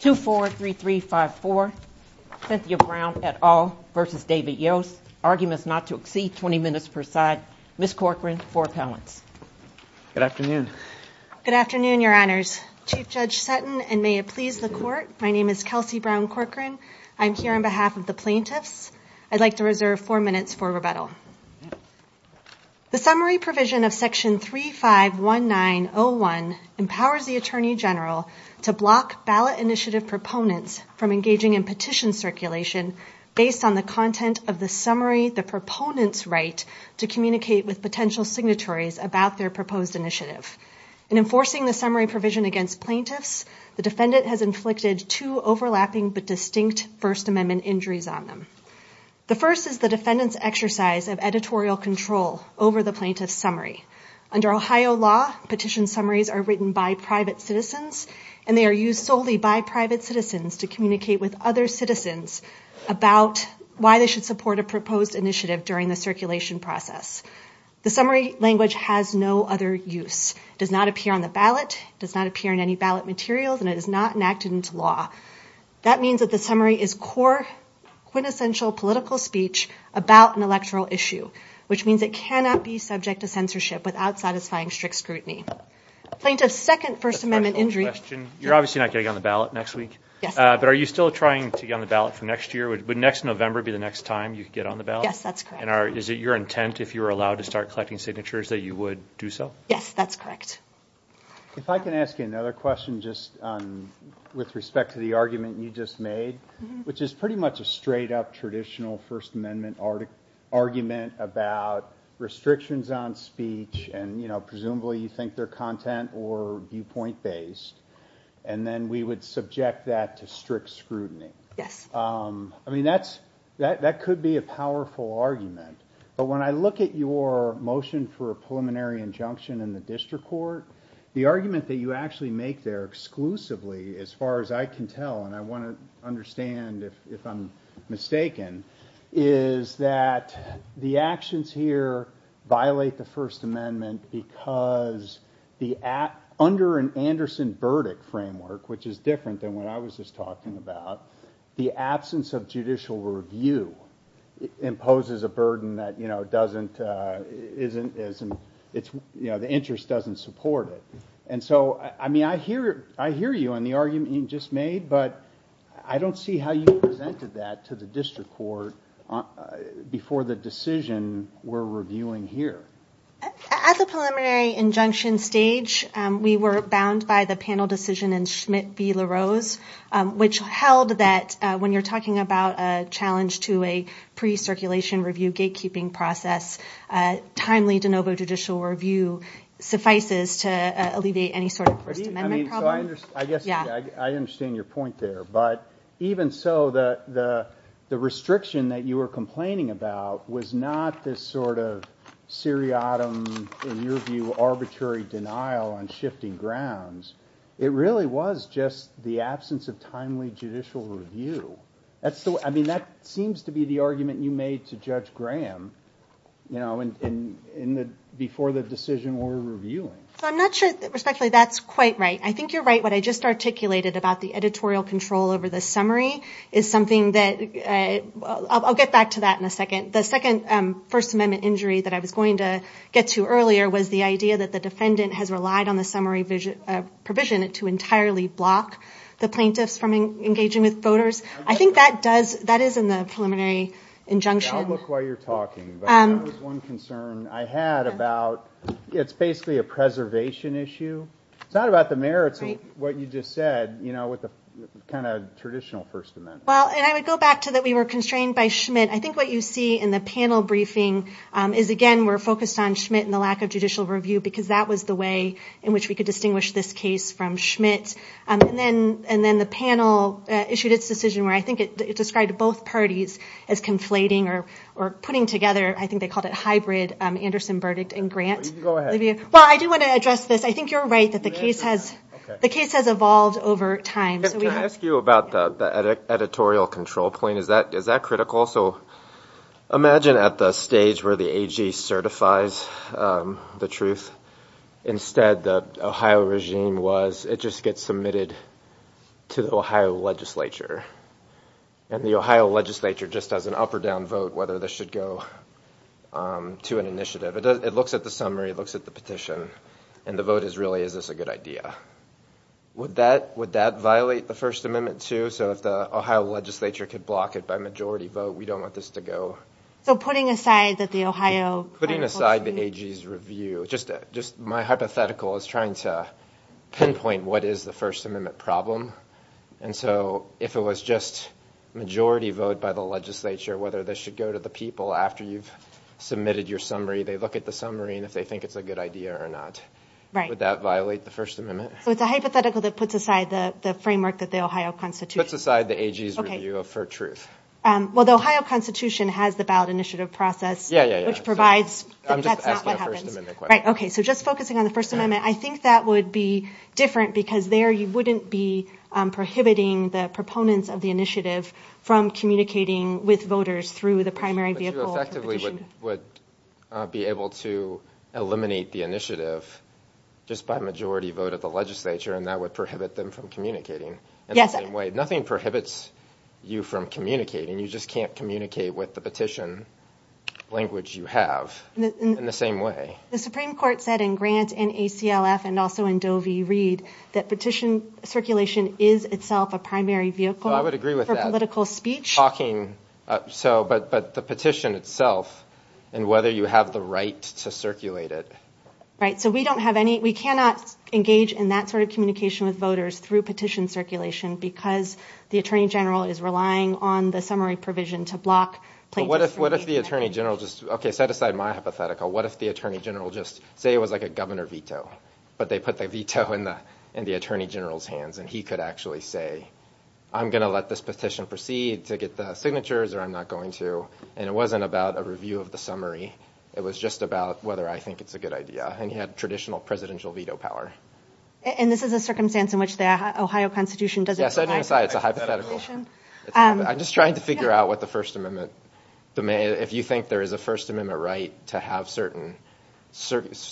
2-4-3-3-5-4 Cynthia Brown et al. v. David Yost Arguments not to exceed 20 minutes per side Ms. Corcoran for appellants Good afternoon Good afternoon, your honors Chief Judge Sutton and may it please the court My name is Kelsey Brown Corcoran I'm here on behalf of the plaintiffs I'd like to reserve four minutes for rebuttal The summary provision of Section 3519-01 empowers the Attorney General to block ballot initiative proponents from engaging in petition circulation based on the content of the summary the proponents write to communicate with potential signatories about their proposed initiative In enforcing the summary provision against plaintiffs the defendant has inflicted two overlapping but distinct First Amendment injuries on them The first is the defendant's exercise of editorial control over the plaintiff's summary Under Ohio law, petition summaries are written by private citizens and they are used solely by private citizens to communicate with other citizens about why they should support a proposed initiative during the circulation process The summary language has no other use does not appear on the ballot does not appear in any ballot materials and it is not enacted into law That means that the summary is core quintessential political speech about an electoral issue which means it cannot be subject to censorship without satisfying strict scrutiny Plaintiff's second First Amendment injury You're obviously not getting on the ballot next week but are you still trying to get on the ballot for next year? Would next November be the next time you could get on the ballot? Yes, that's correct And is it your intent if you were allowed to start collecting signatures that you would do so? Yes, that's correct If I can ask you another question just with respect to the argument you just made which is pretty much a straight up traditional First Amendment argument about restrictions on speech and presumably you think they're content or viewpoint based and then we would subject that to strict scrutiny Yes I mean, that could be a powerful argument but when I look at your motion for a preliminary injunction in the district court the argument that you actually make there exclusively as far as I can tell and I wanna understand if I'm mistaken is that the actions here violate the First Amendment because under an Anderson verdict framework which is different than what I was just talking about the absence of judicial review imposes a burden that the interest doesn't support it. And so I mean, I hear you on the argument you just made but I don't see how you presented that to the district court before the decision we're reviewing here. As a preliminary injunction stage we were bound by the panel decision in Schmidt v. LaRose which held that when you're talking about a challenge to a pre-circulation review gatekeeping process timely de novo judicial review suffices to alleviate any sort of First Amendment problem. I guess I understand your point there but even so the restriction that you were complaining about was not this sort of seriatim in your view arbitrary denial on shifting grounds. It really was just the absence of timely judicial review. That's the way, I mean, that seems to be the argument you made to Judge Graham before the decision we're reviewing. So I'm not sure respectfully that's quite right. I think you're right what I just articulated about the editorial control over the summary is something that I'll get back to that in a second. The second First Amendment injury that I was going to get to earlier was the idea that the defendant has relied on the summary provision to entirely block the plaintiffs from engaging with voters. I think that does, that is in the preliminary injunction. I'll look while you're talking but there was one concern I had about, it's basically a preservation issue. It's not about the merits of what you just said with the kind of traditional First Amendment. Well, and I would go back to that we were constrained by Schmidt. I think what you see in the panel briefing is again we're focused on Schmidt and the lack of judicial review because that was the way in which we could distinguish this case from Schmidt. And then the panel issued its decision where I think it described both parties as conflating or putting together, I think they called it hybrid Anderson verdict and grant. Go ahead. Well, I do want to address this. I think you're right that the case has evolved over time. Can I ask you about the editorial control point? Is that critical? So imagine at the stage where the AG certifies the truth. Instead, the Ohio regime was, it just gets submitted to the Ohio legislature. And the Ohio legislature just has an up or down vote whether this should go to an initiative. It looks at the summary, it looks at the petition and the vote is really, is this a good idea? Would that violate the First Amendment too? So if the Ohio legislature could block it by majority vote, we don't want this to go. So putting aside that the Ohio- Putting aside the AG's review, just my hypothetical is trying to pinpoint what is the First Amendment problem. And so if it was just majority vote by the legislature, whether this should go to the people after you've submitted your summary, they look at the summary and if they think it's a good idea or not. Would that violate the First Amendment? So it's a hypothetical that puts aside the framework that the Ohio Constitution- Puts aside the AG's review for truth. Well, the Ohio Constitution has the ballot initiative process, which provides- I'm just asking a First Amendment question. Right, okay, so just focusing on the First Amendment, I think that would be different because there you wouldn't be prohibiting the proponents of the initiative from communicating with voters through the primary vehicle petition. Would be able to eliminate the initiative just by majority vote of the legislature and that would prohibit them from communicating in the same way. Nothing prohibits you from communicating, you just can't communicate with the petition language you have in the same way. The Supreme Court said in Grant and ACLF and also in Doe v. Reed that petition circulation is itself a primary vehicle- I would agree with that. For political speech. Talking, so, but the petition itself and whether you have the right to circulate it. Right, so we don't have any, we cannot engage in that sort of communication with voters through petition circulation because the Attorney General is relying on the summary provision to block- But what if the Attorney General just, okay, set aside my hypothetical, what if the Attorney General just, say it was like a governor veto, but they put the veto in the Attorney General's hands and he could actually say, I'm gonna let this petition proceed to get the signatures or I'm not going to, and it wasn't about a review of the summary, it was just about whether I think it's a good idea and he had traditional presidential veto power. And this is a circumstance in which the Ohio Constitution doesn't provide- Yeah, setting aside, it's a hypothetical. I'm just trying to figure out what the First Amendment, if you think there is a First Amendment right to have certain,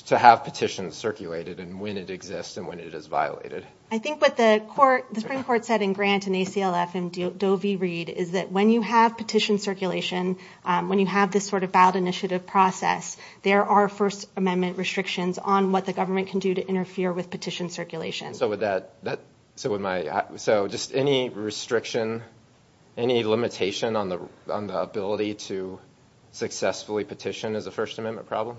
to have petitions circulated and when it exists and when it is violated. I think what the Supreme Court said in Grant and ACLF and Doe v. Reed is that when you have petition circulation, when you have this sort of valid initiative process, there are First Amendment restrictions on what the government can do to interfere with petition circulation. So would that, so would my, so just any restriction, any limitation on the ability to successfully petition as a First Amendment problem?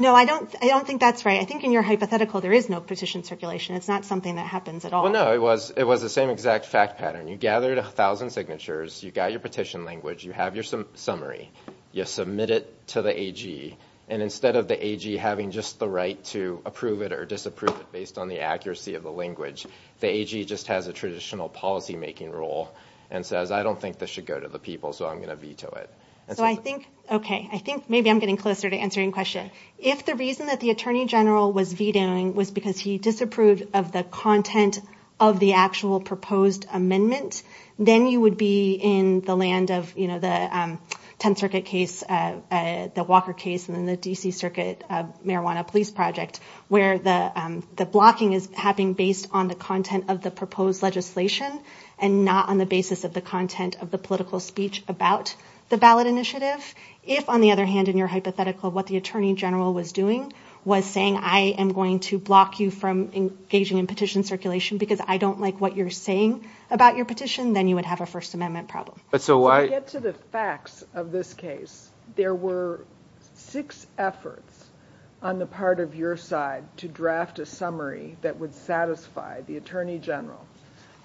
No, I don't think that's right. I think in your hypothetical, there is no petition circulation. It's not something that happens at all. Well, no, it was the same exact fact pattern. You gathered 1,000 signatures, you got your petition language, you have your summary, you submit it to the AG, and instead of the AG having just the right to approve it or disapprove it based on the accuracy of the language, the AG just has a traditional policymaking role and says, I don't think this should go to the people, so I'm gonna veto it. So I think, okay, I think maybe I'm getting closer to answering your question. If the reason that the Attorney General was vetoing was because he disapproved of the content of the actual proposed amendment, then you would be in the land of the 10th Circuit case, the Walker case, and then the D.C. Circuit Marijuana Police Project where the blocking is happening based on the content of the proposed legislation and not on the basis of the content of the political speech about the ballot initiative. If, on the other hand, in your hypothetical, what the Attorney General was doing was saying, I am going to block you from engaging in petition circulation because I don't like what you're saying about your petition, then you would have a First Amendment problem. But so why? To get to the facts of this case, there were six efforts on the part of your side to draft a summary that would satisfy the Attorney General,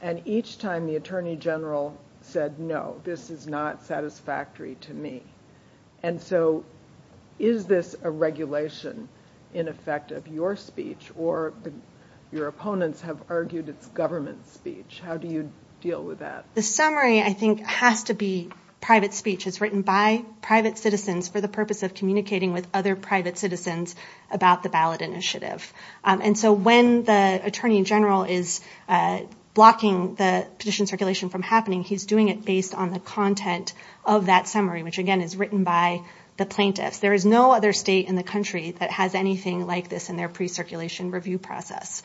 and each time the Attorney General said, no, this is not satisfactory to me. And so is this a regulation in effect of your speech or your opponents have argued it's government speech? How do you deal with that? The summary, I think, has to be private speech. It's written by private citizens for the purpose of communicating with other private citizens about the ballot initiative. And so when the Attorney General is blocking the petition circulation from happening, he's doing it based on the content of that summary, which again is written by the plaintiffs. There is no other state in the country that has anything like this in their pre-circulation review process.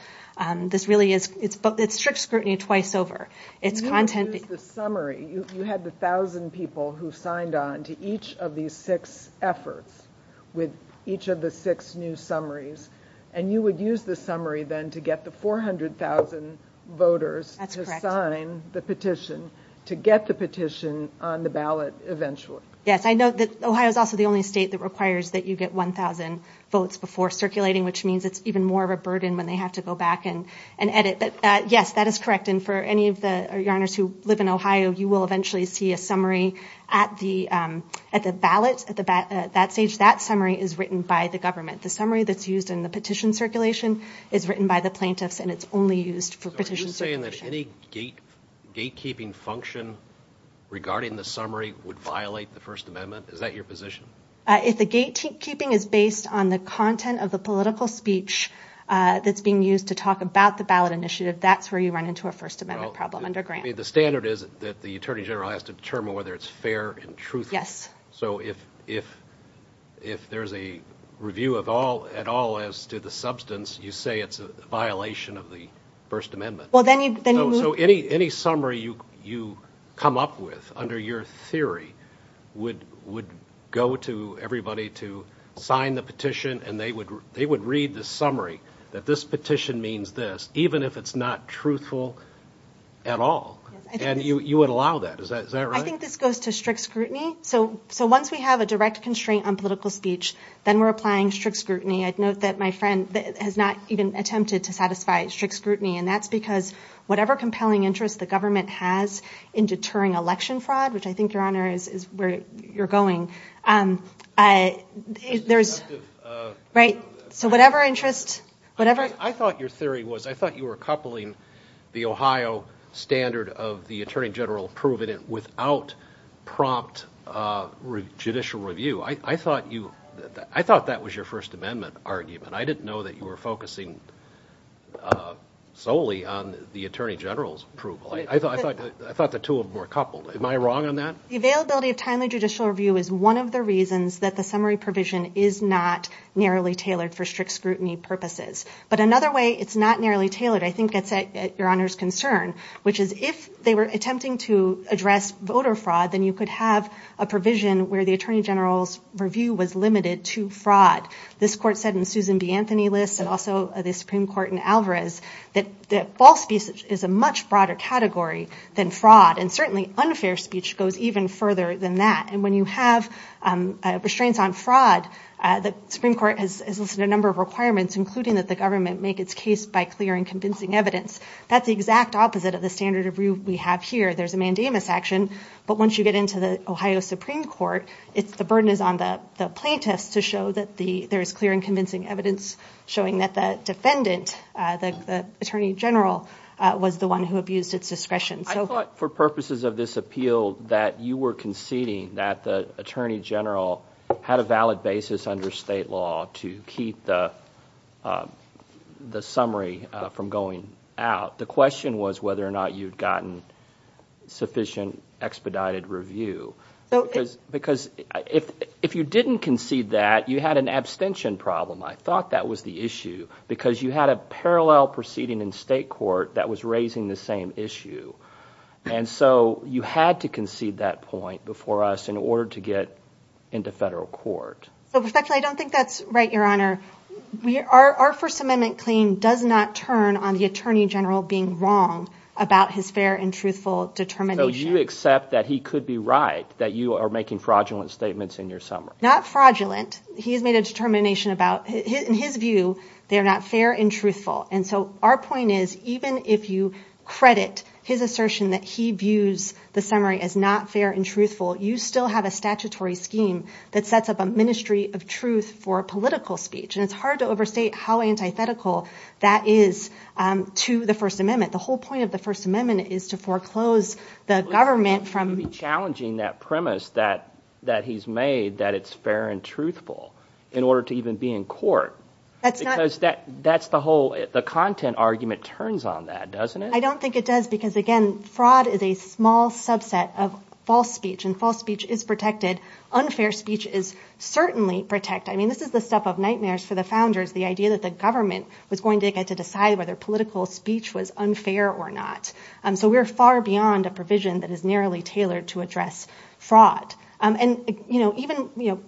This really is, it's strict scrutiny twice over. It's content. You used the summary, you had the 1,000 people who signed on to each of these six efforts with each of the six new summaries, and you would use the summary then to get the 400,000 voters to sign the petition to get the petition on the ballot eventually. Yes, I know that Ohio is also the only state that requires that you get 1,000 votes before circulating, which means it's even more of a burden when they have to go back and edit. Yes, that is correct. And for any of the Yarners who live in Ohio, you will eventually see a summary at the ballot, at that stage, that summary is written by the government. The summary that's used in the petition circulation is written by the plaintiffs and it's only used for petition circulation. Are you saying that any gatekeeping function regarding the summary would violate the First Amendment? Is that your position? If the gatekeeping is based on the content of the political speech that's being used to talk about the ballot initiative, that's where you run into a First Amendment problem under Grant. The standard is that the Attorney General has to determine whether it's fair and truthful. Yes. So if there's a review at all as to the substance, you say it's a violation of the First Amendment. So any summary you come up with under your theory would go to everybody to sign the petition and they would read the summary that this petition means this, even if it's not truthful at all. And you would allow that, is that right? I think this goes to strict scrutiny. So once we have a direct constraint on political speech, then we're applying strict scrutiny. I'd note that my friend has not even attempted to satisfy strict scrutiny. And that's because whatever compelling interest the government has in deterring election fraud, which I think, Your Honor, is where you're going, there's, right? So whatever interest, whatever. I thought your theory was, I thought you were coupling the Ohio standard of the Attorney General approving it without prompt judicial review. I thought that was your First Amendment argument. And I didn't know that you were focusing solely on the Attorney General's approval. I thought the two of them were coupled. Am I wrong on that? The availability of timely judicial review is one of the reasons that the summary provision is not narrowly tailored for strict scrutiny purposes. But another way it's not narrowly tailored, I think it's at Your Honor's concern, which is if they were attempting to address voter fraud, then you could have a provision where the Attorney General's review was limited to fraud. This court said in Susan B. Anthony List and also the Supreme Court in Alvarez that false speech is a much broader category than fraud. And certainly unfair speech goes even further than that. And when you have restraints on fraud, the Supreme Court has listed a number of requirements, including that the government make its case by clearing convincing evidence. That's the exact opposite of the standard review we have here. There's a mandamus action. But once you get into the Ohio Supreme Court, the burden is on the plaintiffs to show that there is clear and convincing evidence showing that the defendant, the Attorney General, was the one who abused its discretion. So- I thought for purposes of this appeal that you were conceding that the Attorney General had a valid basis under state law to keep the summary from going out. The question was whether or not you'd gotten sufficient expedited review. Because if you didn't concede that, you had an abstention problem. I thought that was the issue because you had a parallel proceeding in state court that was raising the same issue. And so you had to concede that point before us in order to get into federal court. So, Professor, I don't think that's right, Your Honor. Our First Amendment claim does not turn on the Attorney General being wrong about his fair and truthful determination. So you accept that he could be right, that you are making fraudulent statements in your summary? Not fraudulent. He has made a determination about, in his view, they are not fair and truthful. And so our point is, even if you credit his assertion that he views the summary as not fair and truthful, you still have a statutory scheme that sets up a ministry of truth for political speech. And it's hard to overstate how antithetical that is to the First Amendment. The whole point of the First Amendment is to foreclose the government from- It would be challenging that premise that he's made that it's fair and truthful in order to even be in court. That's not- Because that's the whole, the content argument turns on that, doesn't it? I don't think it does because, again, fraud is a small subset of false speech, and false speech is protected. Unfair speech is certainly protected. I mean, this is the stuff of nightmares for the founders, the idea that the government was going to get to decide whether political speech was unfair or not. So we're far beyond a provision that is narrowly tailored to address fraud. And even,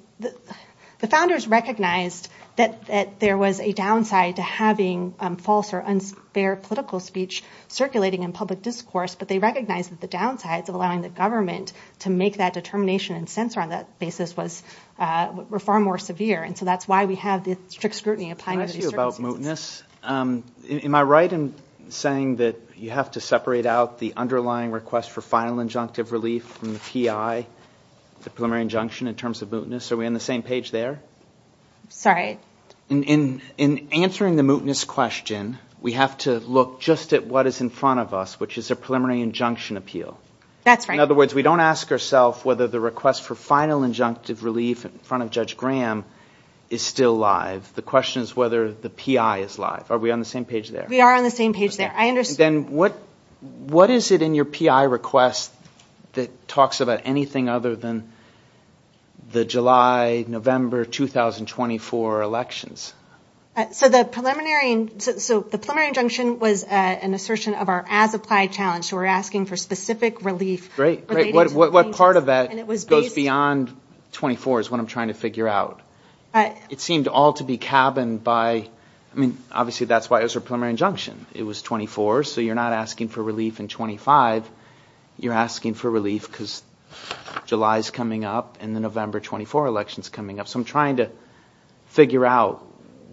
the founders recognized that there was a downside to having false or unfair political speech circulating in public discourse, but they recognized that the downsides of allowing the government to make that determination and censor on that basis were far more severe. And so that's why we have the strict scrutiny applying to these circumstances. Mootness. Am I right in saying that you have to separate out the underlying request for final injunctive relief from the PI, the preliminary injunction in terms of mootness? Are we on the same page there? Sorry. In answering the mootness question, we have to look just at what is in front of us, which is a preliminary injunction appeal. That's right. In other words, we don't ask ourself whether the request for final injunctive relief in front of Judge Graham is still live. The question is whether the PI is live. Are we on the same page there? We are on the same page there. I understand. Then what is it in your PI request that talks about anything other than the July, November 2024 elections? So the preliminary injunction was an assertion of our as-applied challenge. So we're asking for specific relief. Great, great. What part of that goes beyond 24 is what I'm trying to figure out. It seemed all to be cabined by, I mean, obviously that's why it was a preliminary injunction. It was 24, so you're not asking for relief in 25. You're asking for relief because July's coming up and the November 24 election's coming up. So I'm trying to figure out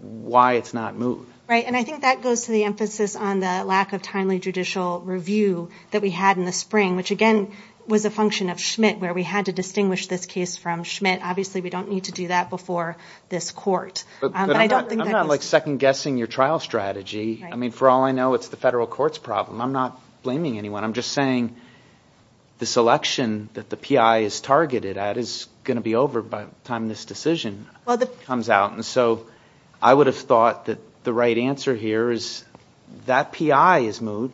why it's not moot. Right, and I think that goes to the emphasis on the lack of timely judicial review that we had in the spring, which again was a function of Schmidt where we had to distinguish this case from Schmidt. Obviously, we don't need to do that before this court. But I don't think that was- I'm not second-guessing your trial strategy. I mean, for all I know, it's the federal court's problem. I'm not blaming anyone. I'm just saying this election that the PI is targeted at is gonna be over by the time this decision comes out. And so I would have thought that the right answer here is that PI is moot,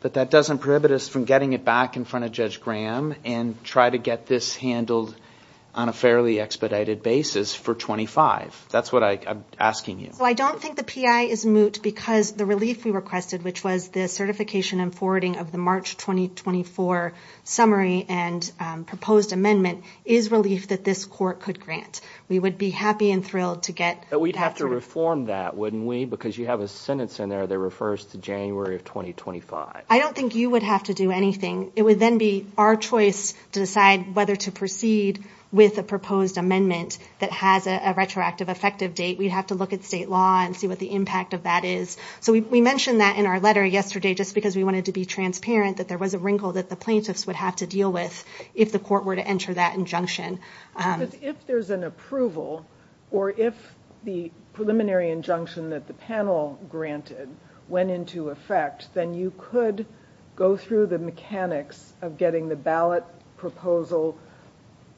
but that doesn't prohibit us from getting it back in front of Judge Graham and try to get this handled on a fairly expedited basis for 25. That's what I'm asking you. So I don't think the PI is moot because the relief we requested, which was the certification and forwarding of the March 2024 summary and proposed amendment is relief that this court could grant. We would be happy and thrilled to get- But we'd have to reform that, wouldn't we? Because you have a sentence in there that refers to January of 2025. I don't think you would have to do anything. It would then be our choice to decide whether to proceed with a proposed amendment that has a retroactive effective date. We'd have to look at state law and see what the impact of that is. So we mentioned that in our letter yesterday just because we wanted to be transparent that there was a wrinkle that the plaintiffs would have to deal with if the court were to enter that injunction. If there's an approval or if the preliminary injunction that the panel granted went into effect, then you could go through the mechanics of getting the ballot proposal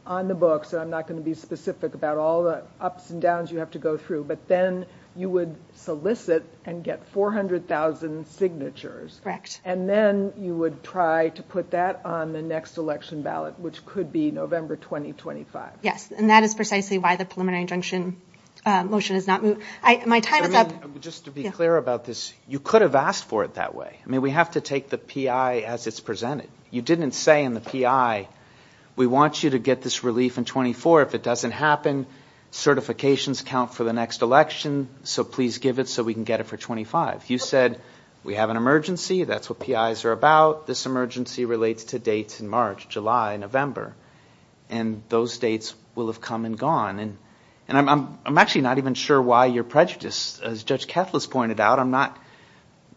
on the books. And I'm not gonna be specific about all the ups and downs you have to go through, but then you would solicit and get 400,000 signatures. And then you would try to put that on the next election ballot, which could be November 2025. Yes, and that is precisely why the preliminary injunction motion is not moot. My time is up. Just to be clear about this, you could have asked for it that way. I mean, we have to take the P.I. as it's presented. You didn't say in the P.I., we want you to get this relief in 24. If it doesn't happen, certifications count for the next election, so please give it so we can get it for 25. You said we have an emergency. That's what P.I.s are about. This emergency relates to dates in March, July, November. And those dates will have come and gone. And I'm actually not even sure why you're prejudiced. As Judge Keflas pointed out, I'm not,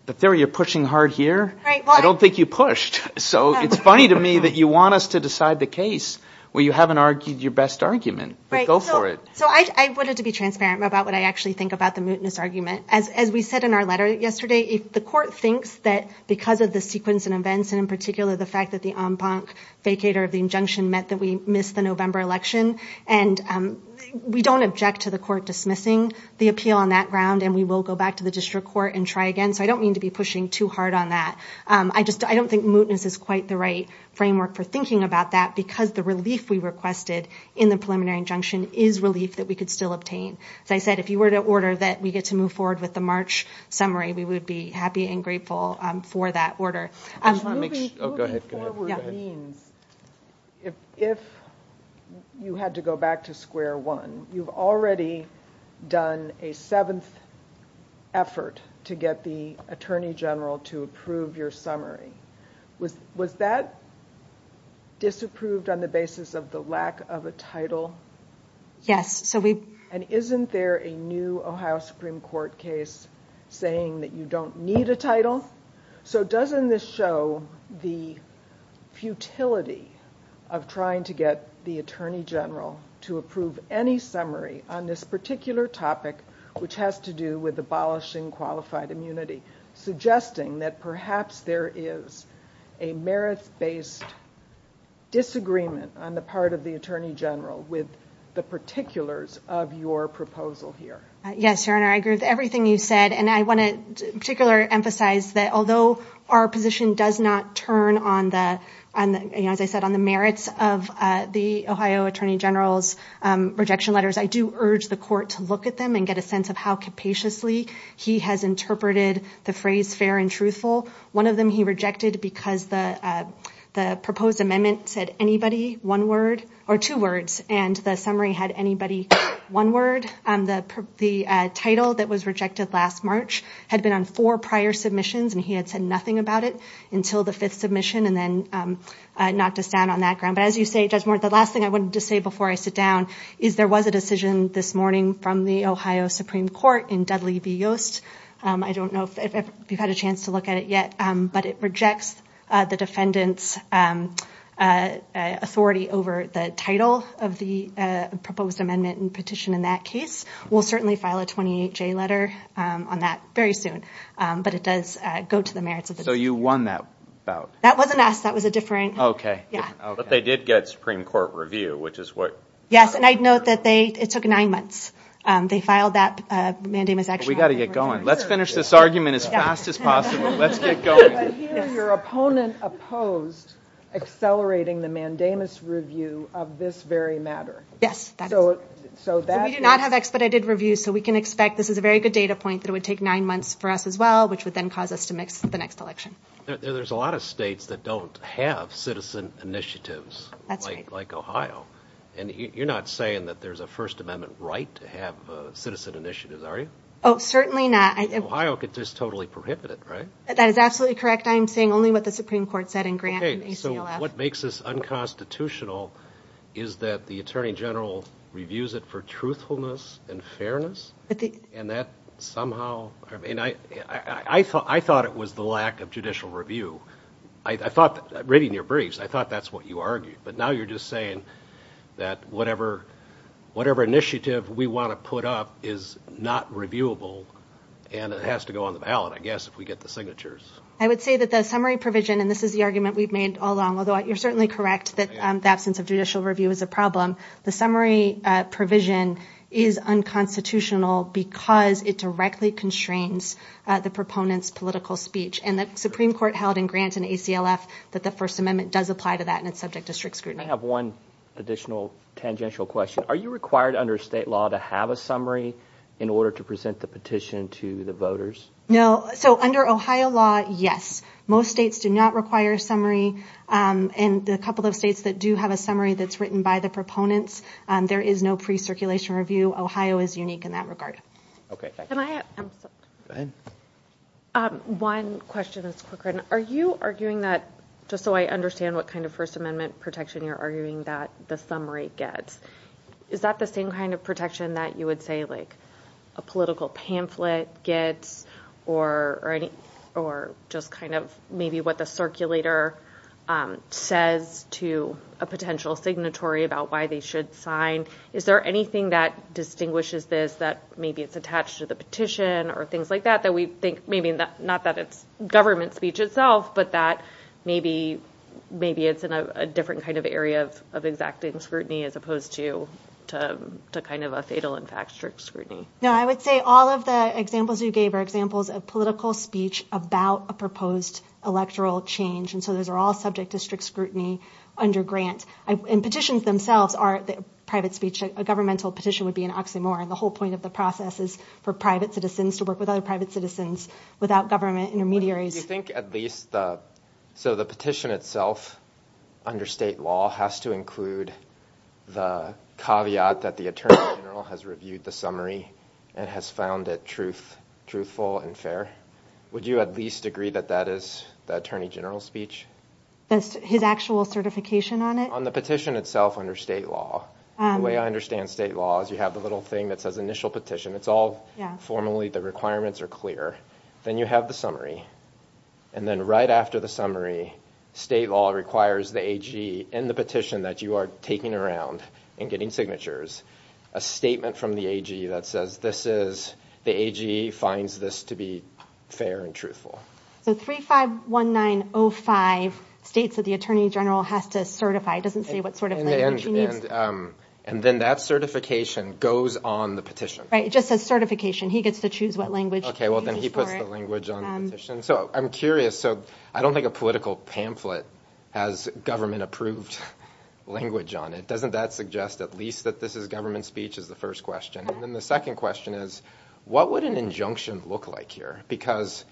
the theory you're pushing hard here, I don't think you pushed. So it's funny to me that you want us to decide the case where you haven't argued your best argument. But go for it. So I wanted to be transparent about what I actually think about the mootness argument. As we said in our letter yesterday, the court thinks that because of the sequence and events, and in particular the fact that the en banc vacator of the injunction meant that we missed the November election and we don't object to the court dismissing the appeal on that ground and we will go back to the district court and try again. So I don't mean to be pushing too hard on that. I just, I don't think mootness is quite the right framework for thinking about that because the relief we requested in the preliminary injunction is relief that we could still obtain. As I said, if you were to order that we get to move forward with the March summary, we would be happy and grateful for that order. Moving forward means if you had to go back to square one, you've already done a seventh effort to get the Attorney General to approve your summary. Was that disapproved on the basis of the lack of a title? Yes, so we- And isn't there a new Ohio Supreme Court case saying that you don't need a title? So doesn't this show the futility of trying to get the Attorney General to approve any summary on this particular topic which has to do with abolishing qualified immunity, suggesting that perhaps there is a merits-based disagreement on the part of the Attorney General with the particulars of your proposal here? Yes, Your Honor, I agree with everything you said and I want to particularly emphasize that although our position does not turn on the, as I said, on the merits of the Ohio Attorney General's rejection letters, I do urge the court to look at them and get a sense of how capaciously he has interpreted the phrase fair and truthful. One of them he rejected because the proposed amendment said anybody one word, or two words, and the summary had anybody one word. The title that was rejected last March had been on four prior submissions and he had said nothing about it until the fifth submission and then knocked us down on that ground. But as you say, Judge Moore, the last thing I wanted to say before I sit down is there was a decision this morning from the Ohio Supreme Court in Dudley v. Yost. I don't know if you've had a chance to look at it yet, but it rejects the defendant's authority over the title of the proposed amendment and petition in that case. We'll certainly file a 28-J letter on that very soon, but it does go to the merits of the defendant. So you won that bout? That wasn't us, that was a different... Yeah. But they did get Supreme Court review, which is what... Yes, and I'd note that it took nine months. They filed that mandamus action... We gotta get going. Let's finish this argument as fast as possible. Let's get going. I hear your opponent opposed accelerating the mandamus review of this very matter. Yes. So that... We do not have expedited reviews, so we can expect this is a very good data point that it would take nine months for us as well, which would then cause us to mix the next election. There's a lot of states that don't have citizen initiatives like Ohio, and you're not saying that there's a First Amendment right to have citizen initiatives, are you? Oh, certainly not. Ohio could just totally prohibit it, right? That is absolutely correct. I am saying only what the Supreme Court said in Grant and ACLF. Okay, so what makes this unconstitutional is that the Attorney General reviews it for truthfulness and fairness, and that somehow, I thought it was the lack of judicial review. I thought, reading your briefs, I thought that's what you argued, but now you're just saying that whatever initiative we want to put up is not reviewable, and it has to go on the ballot, I guess, if we get the signatures. I would say that the summary provision, and this is the argument we've made all along, although you're certainly correct that the absence of judicial review is a problem. The summary provision is unconstitutional because it directly constrains the proponent's political speech, and the Supreme Court held in Grant and ACLF that the First Amendment does apply to that, and it's subject to strict scrutiny. I have one additional tangential question. Are you required under state law to have a summary in order to present the petition to the voters? No, so under Ohio law, yes. Most states do not require a summary, and a couple of states that do have a summary that's written by the proponents, there is no pre-circulation review. Ohio is unique in that regard. Okay, thank you. Can I, I'm sorry. Go ahead. One question that's quicker. Are you arguing that, just so I understand what kind of First Amendment protection you're arguing that the summary gets, is that the same kind of protection that you would say a political pamphlet gets, or just kind of maybe what the circulator says to a potential signatory about why they should sign? Is there anything that distinguishes this that maybe it's attached to the petition or things like that, that we think maybe not that it's government speech itself, but that maybe it's in a different kind of area of exacting scrutiny as opposed to kind of a fatal in fact strict scrutiny? No, I would say all of the examples you gave are examples of political speech about a proposed electoral change, and so those are all subject to strict scrutiny under grant. And petitions themselves are private speech. A governmental petition would be an oxymoron. The whole point of the process is for private citizens to work with other private citizens without government intermediaries. Do you think at least, so the petition itself under state law has to include the caveat that the Attorney General has reviewed the summary and has found it truthful and fair? Would you at least agree that that is the Attorney General's speech? That's his actual certification on it? On the petition itself under state law. The way I understand state law is you have the little thing that says initial petition. It's all formally, the requirements are clear. Then you have the summary, and then right after the summary, state law requires the AG in the petition that you are taking around and getting signatures a statement from the AG that says this is, the AG finds this to be fair and truthful. So 351905 states that the Attorney General has to certify, it doesn't say what sort of language he needs. And then that certification goes on the petition. Right, it just says certification. He gets to choose what language. Okay, well then he puts the language on the petition. So I'm curious, so I don't think a political pamphlet has government approved language on it. Doesn't that suggest at least that this is government speech is the first question. And then the second question is, what would an injunction look like here? Because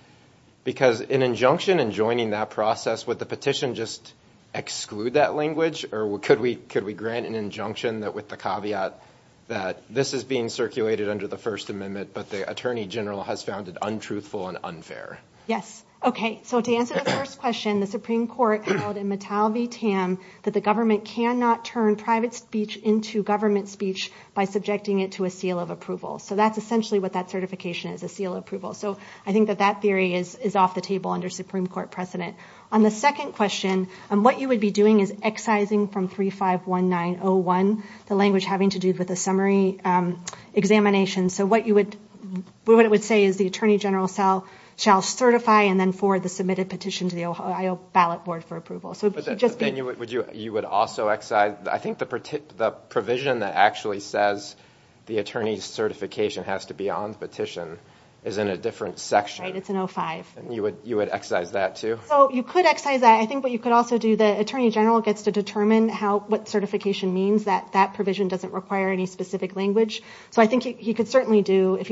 an injunction and joining that process, would the petition just exclude that language? Or could we grant an injunction that with the caveat that this is being circulated under the First Amendment, but the Attorney General has found it untruthful and unfair? Yes, okay, so to answer the first question, the Supreme Court held in Mattel v. Tam that the government cannot turn private speech into government speech by subjecting it to a seal of approval. So that's essentially what that certification is, a seal of approval. So I think that that theory is off the table under Supreme Court precedent. On the second question, what you would be doing is excising from 3519-01, the language having to do with the summary examination. So what it would say is, the Attorney General shall certify and then forward the submitted petition to the Ohio ballot board for approval. So it could just be- But then you would also excise, I think the provision that actually says the attorney's certification has to be on the petition is in a different section. Right, it's in 05. And you would excise that too? So you could excise that. I think what you could also do, the Attorney General gets to determine what certification means, that that provision doesn't require any specific language. So I think he could certainly do, if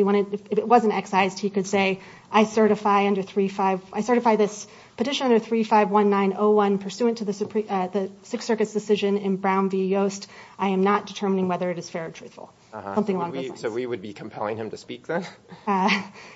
it wasn't excised, he could say, I certify under 35, I certify this petition under 3519-01 pursuant to the Sixth Circuit's decision in Brown v. Yost. I am not determining whether it is fair or truthful. Something along those lines. So we would be compelling him to speak then?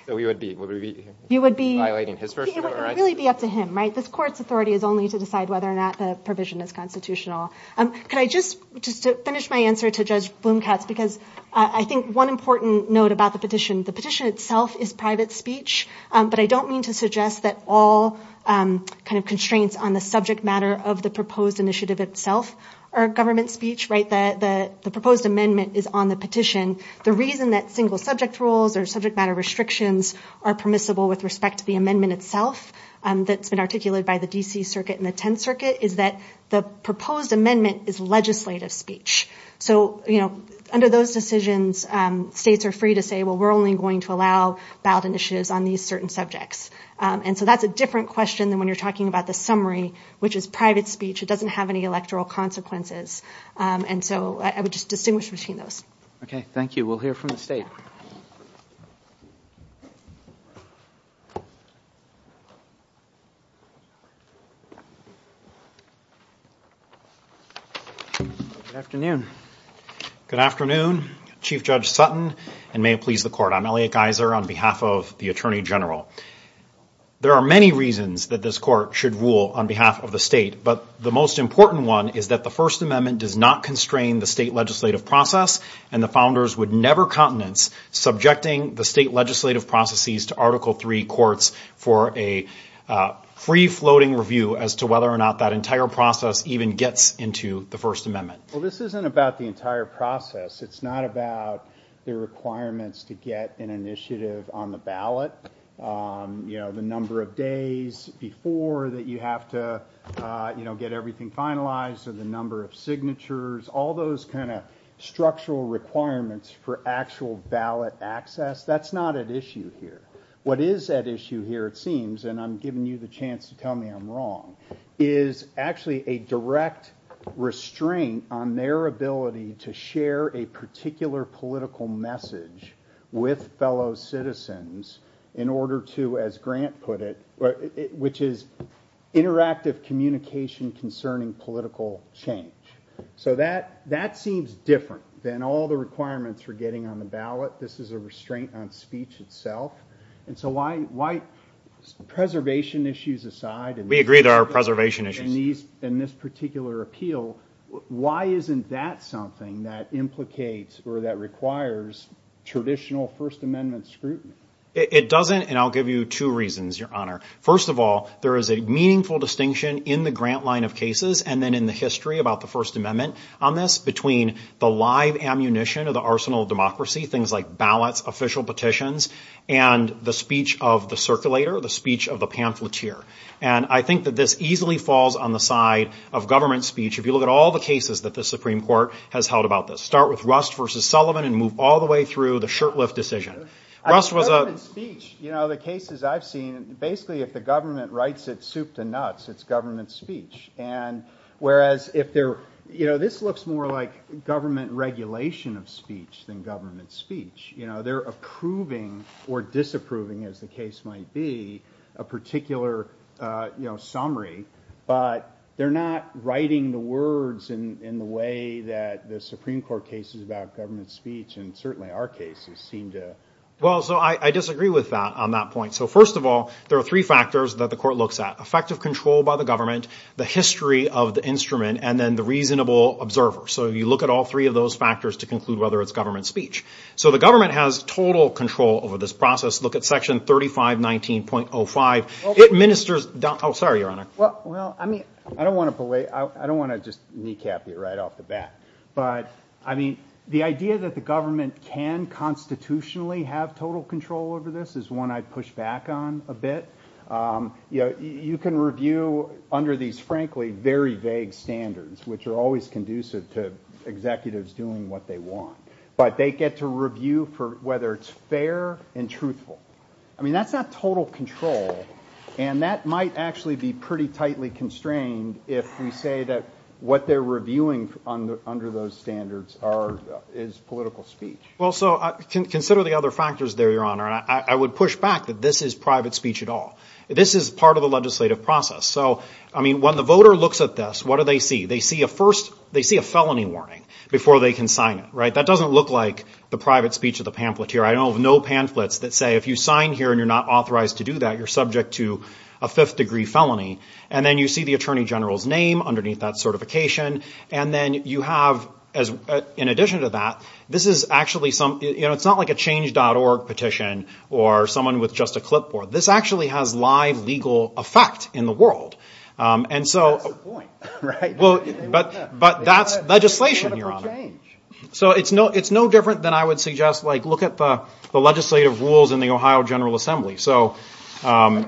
So we would be violating his version of it, right? It would really be up to him, right? This court's authority is only to decide whether or not the provision is constitutional. Could I just, just to finish my answer to Judge Bloom-Katz, because I think one important note about the petition, the petition itself is private speech, but I don't mean to suggest that all kind of constraints on the subject matter of the proposed initiative itself are government speech, right? That the proposed amendment is on the petition. The reason that single subject rules or subject matter restrictions are permissible with respect to the amendment itself that's been articulated by the D.C. Circuit and the Tenth Circuit is that the proposed amendment is legislative speech. So under those decisions, states are free to say, well, we're only going to allow ballot initiatives on these certain subjects. And so that's a different question than when you're talking about the summary, which is private speech. It doesn't have any electoral consequences. And so I would just distinguish between those. Okay, thank you. We'll hear from the state. Good afternoon. Good afternoon, Chief Judge Sutton, and may it please the court. I'm Elliot Geiser on behalf of the Attorney General. There are many reasons that this court should rule on behalf of the state, but the most important one is that the First Amendment does not constrain the state legislative process, and the founders would never countenance subjecting the state legislative processes to Article III courts for a state legislative process. Free floating review as to whether or not that entire process even gets into the First Amendment. Well, this isn't about the entire process. It's not about the requirements to get an initiative on the ballot, the number of days before that you have to get everything finalized, or the number of signatures, all those kind of structural requirements for actual ballot access. That's not at issue here. What is at issue here, it seems, and I'm giving you the chance to tell me I'm wrong, is actually a direct restraint on their ability to share a particular political message with fellow citizens in order to, as Grant put it, which is interactive communication concerning political change. So that seems different than all the requirements for getting on the ballot. This is a restraint on speech itself. And so why, preservation issues aside- We agree there are preservation issues. In this particular appeal, why isn't that something that implicates or that requires traditional First Amendment scrutiny? It doesn't, and I'll give you two reasons, Your Honor. First of all, there is a meaningful distinction in the Grant line of cases and then in the history about the First Amendment on this between the live ammunition of the arsenal of democracy, things like ballots, official petitions, and the speech of the circulator, the speech of the pamphleteer. And I think that this easily falls on the side of government speech. If you look at all the cases that the Supreme Court has held about this. Start with Rust versus Sullivan and move all the way through the Shirtlift decision. Rust was a- Government speech, the cases I've seen, basically if the government writes it soup to nuts, it's government speech. And whereas if they're, this looks more like government regulation of speech than government speech. They're approving or disapproving as the case might be a particular summary, but they're not writing the words in the way that the Supreme Court cases about government speech and certainly our cases seem to. Well, so I disagree with that on that point. So first of all, there are three factors that the court looks at. Effective control by the government, the history of the instrument, and then the reasonable observer. So you look at all three of those factors to conclude whether it's government speech. So the government has total control over this process. Look at section 3519.05. It ministers, oh, sorry, Your Honor. Well, I mean, I don't want to belay, I don't want to just kneecap you right off the bat, but I mean, the idea that the government can constitutionally have total control over this is one I'd push back on a bit. You can review under these, frankly, very vague standards, which are always conducive to executives doing what they want. But they get to review for whether it's fair and truthful. I mean, that's not total control. And that might actually be pretty tightly constrained if we say that what they're reviewing under those standards is political speech. Well, so consider the other factors there, Your Honor. I would push back that this is private speech at all. This is part of the legislative process. So, I mean, when the voter looks at this, what do they see? They see a first, they see a felony warning before they can sign it, right? That doesn't look like the private speech of the pamphleteer. I don't know of no pamphlets that say, if you sign here and you're not authorized to do that, you're subject to a fifth degree felony. And then you see the attorney general's name underneath that certification. And then you have, in addition to that, this is actually some, you know, it's not like a change.org petition or someone with just a clipboard. This actually has live legal effect in the world. And so- That's the point, right? But that's legislation, Your Honor. So it's no different than I would suggest, like, look at the legislative rules in the Ohio General Assembly, so. I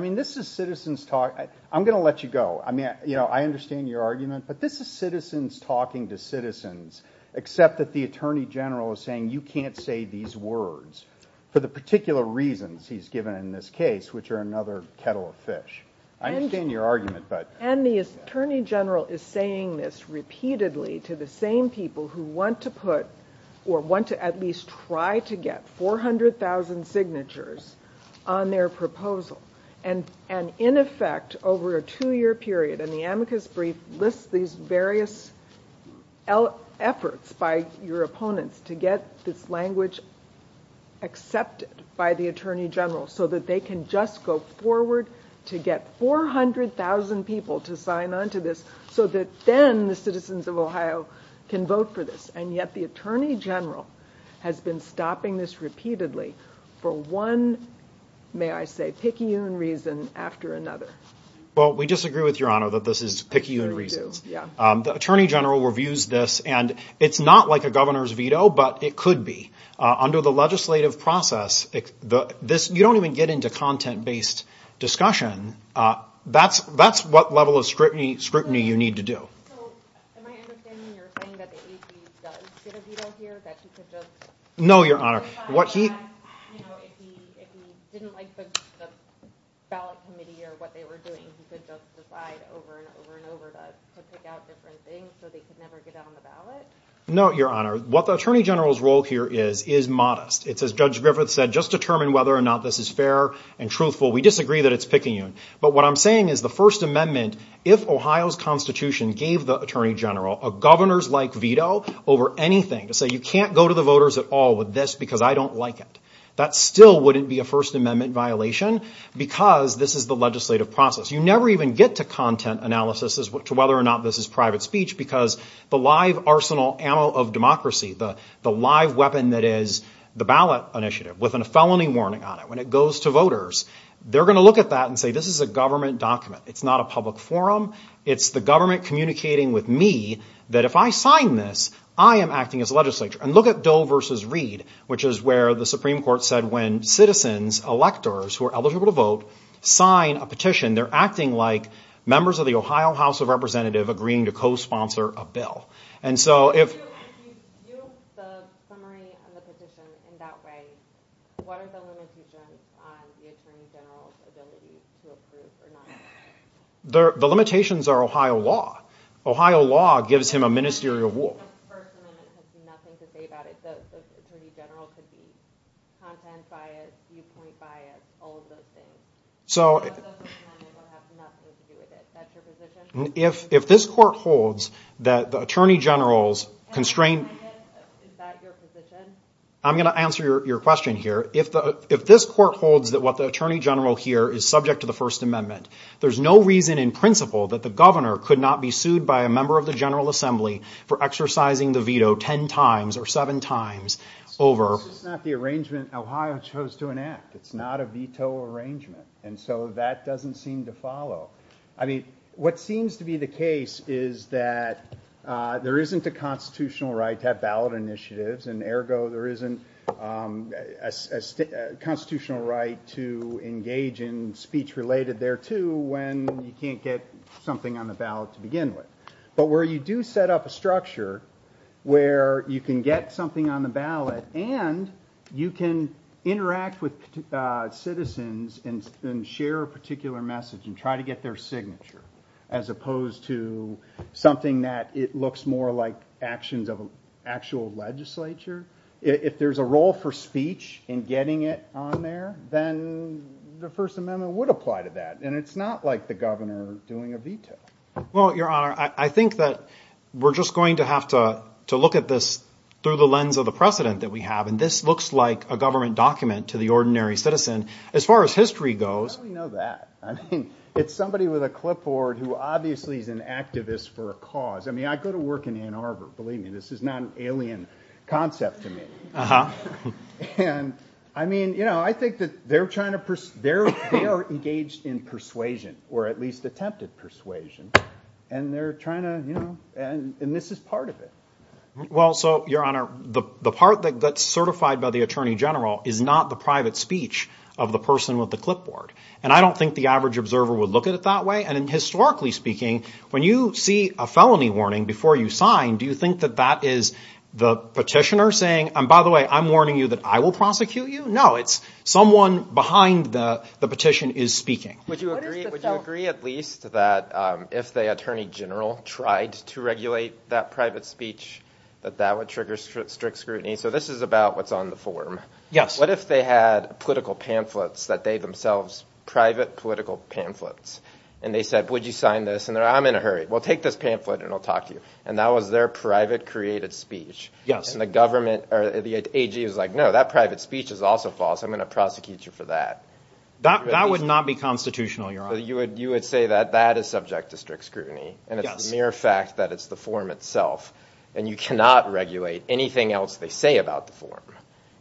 mean, this is citizens talk. I'm gonna let you go. I mean, you know, I understand your argument, but this is citizens talking to citizens, except that the attorney general is saying you can't say these words for the particular reasons he's given in this case, which are another kettle of fish. I understand your argument, but- And the attorney general is saying this repeatedly to the same people who want to put, or want to at least try to get 400,000 signatures on their proposal. And in effect, over a two-year period, and the amicus brief lists these various efforts by your opponents to get this language accepted by the attorney general so that they can just go forward to get 400,000 people to sign onto this so that then the citizens of Ohio can vote for this. And yet the attorney general has been stopping this repeatedly for one, may I say, picayune reason after another. Well, we disagree with your honor that this is picayune reasons. The attorney general reviews this, and it's not like a governor's veto, but it could be. Under the legislative process, you don't even get into content-based discussion. That's what level of scrutiny you need to do. So am I understanding you're saying that the AG does get a veto here, that he could just- No, your honor. What he- You know, if he didn't like the ballot committee or what they were doing, he could just decide over and over and over to pick out different things so they could never get on the ballot? No, your honor. What the attorney general's role here is, is modest. It's as Judge Griffith said, just determine whether or not this is fair and truthful. We disagree that it's picayune. But what I'm saying is the First Amendment, if Ohio's constitution gave the attorney general a governor's-like veto over anything, to say you can't go to the voters at all with this because I don't like it, that still wouldn't be a First Amendment violation because this is the legislative process. You never even get to content analysis to whether or not this is private speech because the live arsenal ammo of democracy, the live weapon that is the ballot initiative with a felony warning on it, when it goes to voters, they're going to look at that and say, this is a government document. It's not a public forum. It's the government communicating with me that if I sign this, I am acting as a legislator. And look at Doe versus Reed, which is where the Supreme Court said when citizens, electors who are eligible to vote, sign a petition, they're acting like members of the Ohio House of Representatives agreeing to co-sponsor a bill. And so if- If you use the summary of the petition in that way, what are the limitations on the Attorney General's ability to approve or not approve? The limitations are Ohio law. Ohio law gives him a ministerial war. If the First Amendment has nothing to say about it, the Attorney General could be content biased, viewpoint biased, all of those things. So- The First Amendment will have nothing to do with it. Is that your position? If this court holds that the Attorney General's constrained- And if it is, is that your position? I'm gonna answer your question here. If this court holds that what the Attorney General here is subject to the First Amendment, there's no reason in principle that the governor could not be sued by a member of the General Assembly for exercising the veto 10 times or seven times over- So this is not the arrangement Ohio chose to enact. It's not a veto arrangement. And so that doesn't seem to follow. I mean, what seems to be the case is that there isn't a constitutional right to have ballot initiatives, and ergo there isn't a constitutional right to engage in speech-related thereto when you can't get something on the ballot to begin with. But where you do set up a structure where you can get something on the ballot and you can interact with citizens and share a particular message and try to get their signature, as opposed to something that it looks more like actions of an actual legislature. If there's a role for speech in getting it on there, then the First Amendment would apply to that. And it's not like the governor doing a veto. Well, Your Honor, I think that we're just going to have to look at this through the lens of the precedent that we have. And this looks like a government document to the ordinary citizen. As far as history goes- How do we know that? I mean, it's somebody with a clipboard who obviously is an activist for a cause. I mean, I go to work in Ann Arbor. Believe me, this is not an alien concept to me. And I mean, you know, I think that they're trying to- They are engaged in persuasion, or at least attempted persuasion. And they're trying to, you know, and this is part of it. Well, so, Your Honor, the part that's certified by the Attorney General is not the private speech of the person with the clipboard. And I don't think the average observer would look at it that way. And historically speaking, when you see a felony warning before you sign, do you think that that is the petitioner saying, and by the way, I'm warning you that I will prosecute you? No, it's someone behind the petition is speaking. Would you agree at least that if the Attorney General tried to regulate that private speech, that that would trigger strict scrutiny? So this is about what's on the form. Yes. What if they had political pamphlets that they themselves, private political pamphlets, and they said, would you sign this? And they're, I'm in a hurry. Well, take this pamphlet and I'll talk to you. And that was their private created speech. Yes. And the government or the AG is like, no, that private speech is also false. I'm gonna prosecute you for that. That would not be constitutional, Your Honor. You would say that that is subject to strict scrutiny. And it's mere fact that it's the form itself. And you cannot regulate anything else they say about the form.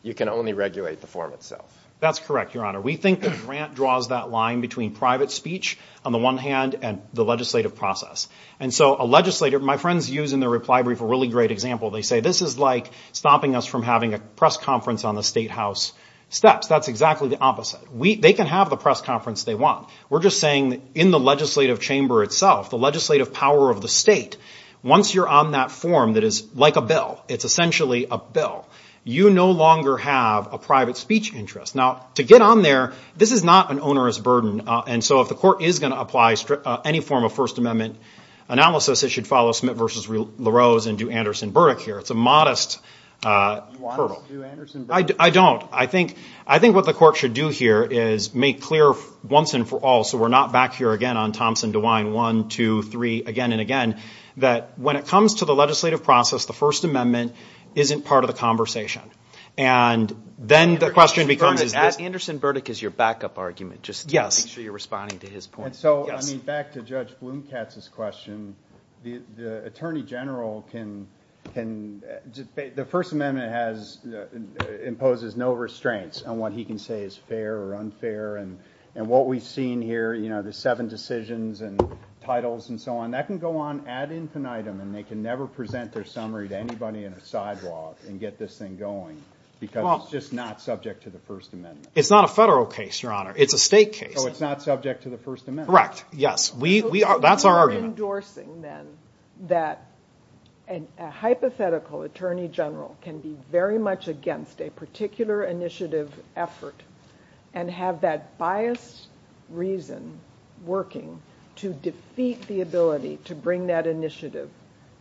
You can only regulate the form itself. That's correct, Your Honor. We think the grant draws that line between private speech on the one hand and the legislative process. And so a legislator, my friends use in their reply brief a really great example. They say, this is like stopping us from having a press conference on the state house steps. That's exactly the opposite. They can have the press conference they want. We're just saying in the legislative chamber itself, the legislative power of the state, once you're on that form that is like a bill, it's essentially a bill, you no longer have a private speech interest. Now to get on there, this is not an onerous burden. And so if the court is gonna apply any form of First Amendment analysis, it should follow Smith versus LaRose and do Anderson Burdick here. It's a modest hurdle. You want us to do Anderson Burdick? I don't. I think what the court should do here is make clear once and for all, so we're not back here again on Thompson, DeWine, one, two, three, again and again, that when it comes to the legislative process, the First Amendment isn't part of the conversation. And then the question becomes is this. Anderson Burdick is your backup argument. Just make sure you're responding to his point. And so back to Judge Blumkatz's question, the Attorney General can, the First Amendment imposes no restraints on what he can say is fair or unfair. And what we've seen here, the seven decisions and titles and so on, that can go on ad infinitum and they can never present their summary to anybody in a sidewalk and get this thing going because it's just not subject to the First Amendment. It's not a federal case, Your Honor. It's a state case. So it's not subject to the First Amendment. Correct, yes. We are, that's our argument. So you're endorsing then that a hypothetical Attorney General can be very much against a particular initiative effort and have that biased reason working to defeat the ability to bring that initiative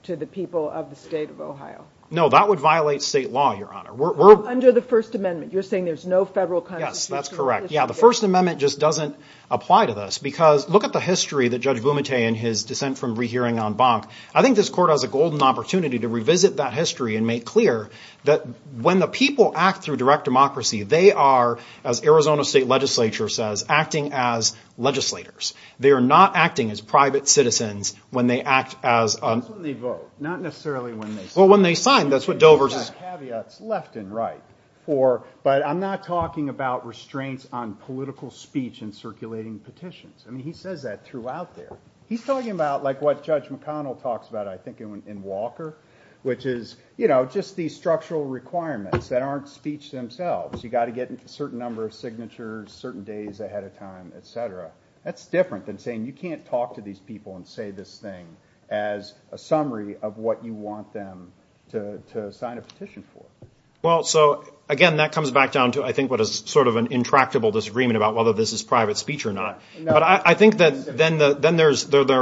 to the people of the state of Ohio? No, that would violate state law, Your Honor. Under the First Amendment, you're saying there's no federal kind of... Yes, that's correct. Yeah, the First Amendment just doesn't apply to this because look at the history that Judge Bumate in his dissent from rehearing on Bonk. I think this court has a golden opportunity to revisit that history and make clear that when the people act through direct democracy, they are, as Arizona State Legislature says, acting as legislators. They are not acting as private citizens when they act as a... That's when they vote, not necessarily when they sign. Well, when they sign, that's what Dover's is... Caveats left and right, but I'm not talking about restraints on political speech in circulating petitions. I mean, he says that throughout there. He's talking about like what Judge McConnell talks about, I think in Walker, which is just these structural requirements that aren't speech themselves. You gotta get a certain number of signatures certain days ahead of time, et cetera. That's different than saying you can't talk to these people and say this thing as a summary of what you want them to sign a petition for. Well, so again, that comes back down to, I think what is sort of an intractable disagreement about whether this is private speech or not. But I think that then there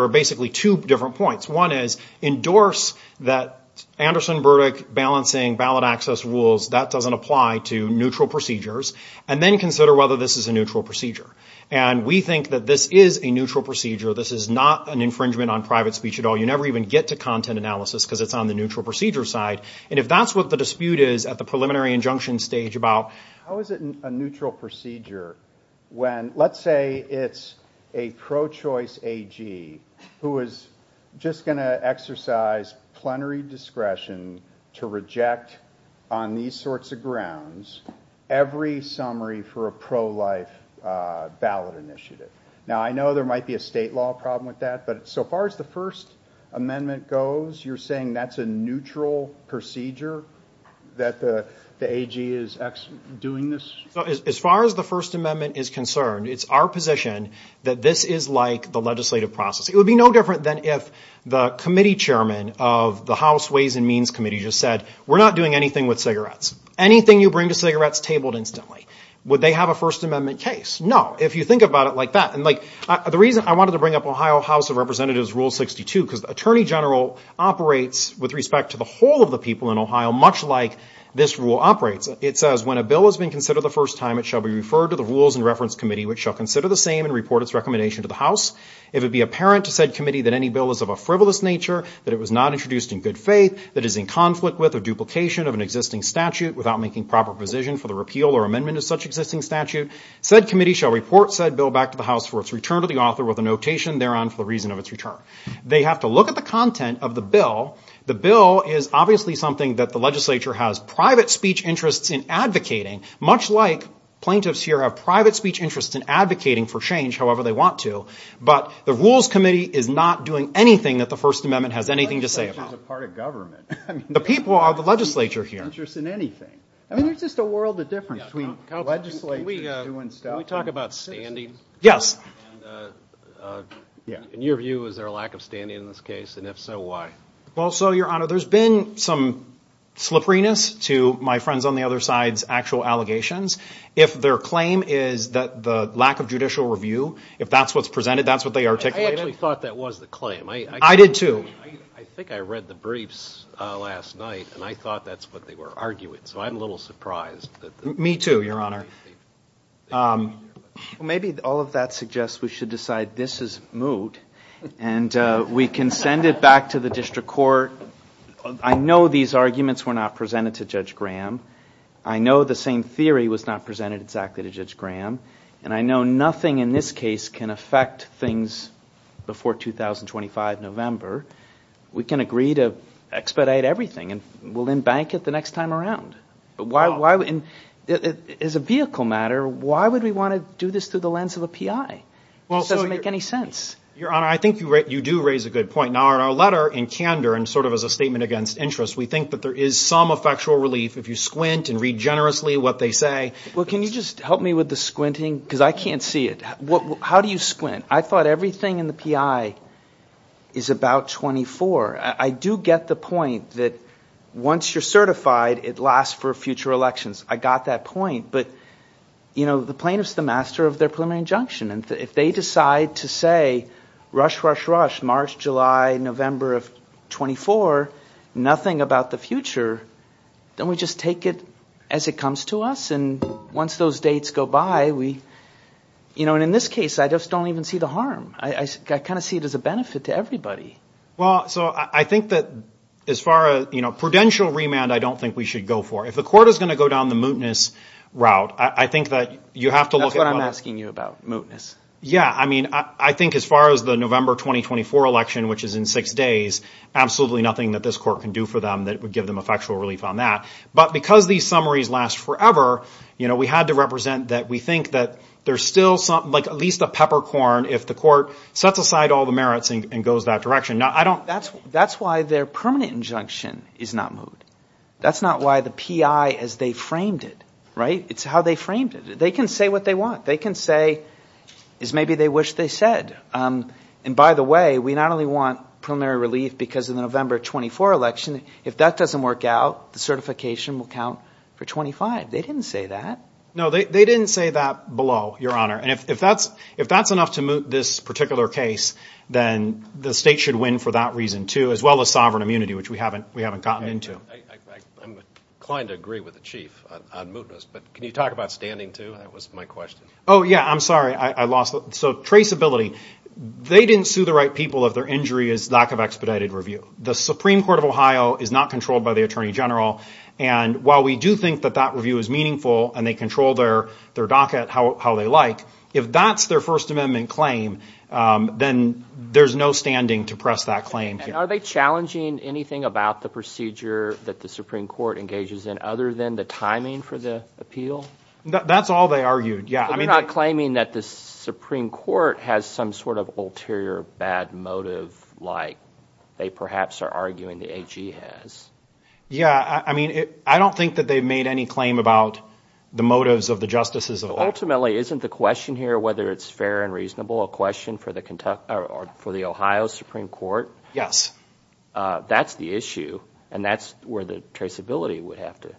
are basically two different points. One is endorse that Anderson-Burdick balancing ballot access rules, that doesn't apply to neutral procedures. And then consider whether this is a neutral procedure. And we think that this is a neutral procedure. This is not an infringement on private speech at all. You never even get to content analysis because it's on the neutral procedure side. And if that's what the dispute is at the preliminary injunction stage about, how is it a neutral procedure when let's say it's a pro-choice AG who is just gonna exercise plenary discretion to reject on these sorts of grounds every summary for a pro-life ballot initiative. Now I know there might be a state law problem with that, but so far as the First Amendment goes, you're saying that's a neutral procedure that the AG is doing this? So as far as the First Amendment is concerned, it's our position that this is like the legislative process. It would be no different than if the committee chairman of the House Ways and Means Committee just said, we're not doing anything with cigarettes. Anything you bring to cigarettes tabled instantly. Would they have a First Amendment case? No, if you think about it like that. And the reason I wanted to bring up Ohio House of Representatives Rule 62, because the Attorney General operates with respect to the whole of the people in Ohio, much like this rule operates. It says, when a bill has been considered the first time, it shall be referred to the Rules and Reference Committee, which shall consider the same and report its recommendation to the House. If it be apparent to said committee that any bill is of a frivolous nature, that it was not introduced in good faith, that is in conflict with or duplication of an existing statute without making proper position for the repeal or amendment of such existing statute, said committee shall report said bill back to the House for its return to the author with a notation thereon for the reason of its return. They have to look at the content of the bill. The bill is obviously something that the legislature has private speech interests in advocating, much like plaintiffs here have private speech interests in advocating for change however they want to, but the Rules Committee is not doing anything that the First Amendment has anything to say about. The legislature is a part of government. The people are the legislature here. Interest in anything. I mean, there's just a world of difference between legislators doing stuff and citizens. Can we talk about standing? Yes. In your view, is there a lack of standing in this case? And if so, why? Well, so, your honor, there's been some slipperiness to my friends on the other side's actual allegations. If their claim is that the lack of judicial review, if that's what's presented, that's what they articulated. I actually thought that was the claim. I did too. I think I read the briefs last night and I thought that's what they were arguing. So I'm a little surprised that the- Me too, your honor. Maybe all of that suggests we should decide this is moot and we can send it back to the district court. I know these arguments were not presented to Judge Graham. I know the same theory was not presented exactly to Judge Graham. And I know nothing in this case can affect things before 2025, November. We can agree to expedite everything and we'll embank it the next time around. But why, as a vehicle matter, why would we want to do this through the lens of a PI? It doesn't make any sense. Your honor, I think you do raise a good point. Now, in our letter in candor and sort of as a statement against interest, we think that there is some effectual relief if you squint and read generously what they say. Well, can you just help me with the squinting? Because I can't see it. How do you squint? I thought everything in the PI is about 24. I do get the point that once you're certified, it lasts for future elections. I got that point. But, you know, the plaintiff's the master of their preliminary injunction. And if they decide to say, rush, rush, rush, March, July, November of 24, nothing about the future, then we just take it as it comes to us. And once those dates go by, we, you know, and in this case, I just don't even see the harm. I kind of see it as a benefit to everybody. Well, so I think that as far as, you know, prudential remand, I don't think we should go for. If the court is going to go down the mootness route, I think that you have to look at- That's what I'm asking you about, mootness. Yeah, I mean, I think as far as the November 2024 election, which is in six days, absolutely nothing that this court can do for them that would give them effectual relief on that. But because these summaries last forever, you know, we had to represent that we think that there's still something like at least a peppercorn if the court sets aside all the merits and goes that direction. Now, I don't- That's why their permanent injunction is not moot. That's not why the PI, as they framed it, right? It's how they framed it. They can say what they want. They can say as maybe they wish they said. And by the way, we not only want preliminary relief because of the November 24 election, if that doesn't work out, the certification will count for 25. They didn't say that. No, they didn't say that below, Your Honor. And if that's enough to moot this particular case, then the state should win for that reason, too, as well as sovereign immunity, which we haven't gotten into. I'm inclined to agree with the Chief on mootness, but can you talk about standing, too? That was my question. Oh, yeah, I'm sorry. I lost it. So traceability, they didn't sue the right people if their injury is lack of expedited review. The Supreme Court of Ohio is not controlled by the Attorney General. And while we do think that that review is meaningful and they control their docket how they like, if that's their First Amendment claim, then there's no standing to press that claim. And are they challenging anything about the procedure that the Supreme Court engages in other than the timing for the appeal? That's all they argued, yeah. They're not claiming that the Supreme Court has some sort of ulterior bad motive like they perhaps are arguing the AG has. Yeah, I mean, I don't think that they've made any claim about the motives of the justices of that. Ultimately, isn't the question here whether it's fair and reasonable for the Ohio Supreme Court? Yes. That's the issue. And that's where the traceability would have to.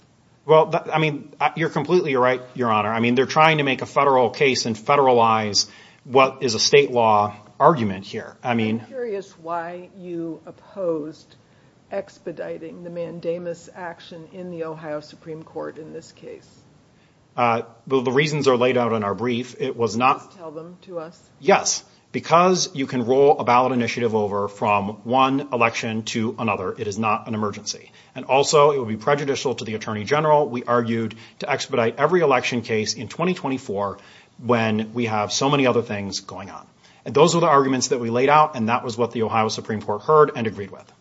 Well, I mean, you're completely right, Your Honor. I mean, they're trying to make a federal case and federalize what is a state law argument here. I mean- I'm curious why you opposed expediting the mandamus action in the Ohio Supreme Court in this case. Well, the reasons are laid out in our brief. It was not- Please tell them to us. Yes, because you can roll a ballot initiative over from one election to another. It is not an emergency. And also it would be prejudicial to the Attorney General. We argued to expedite every election case in 2024 when we have so many other things going on. And those are the arguments that we laid out. And that was what the Ohio Supreme Court heard and agreed with.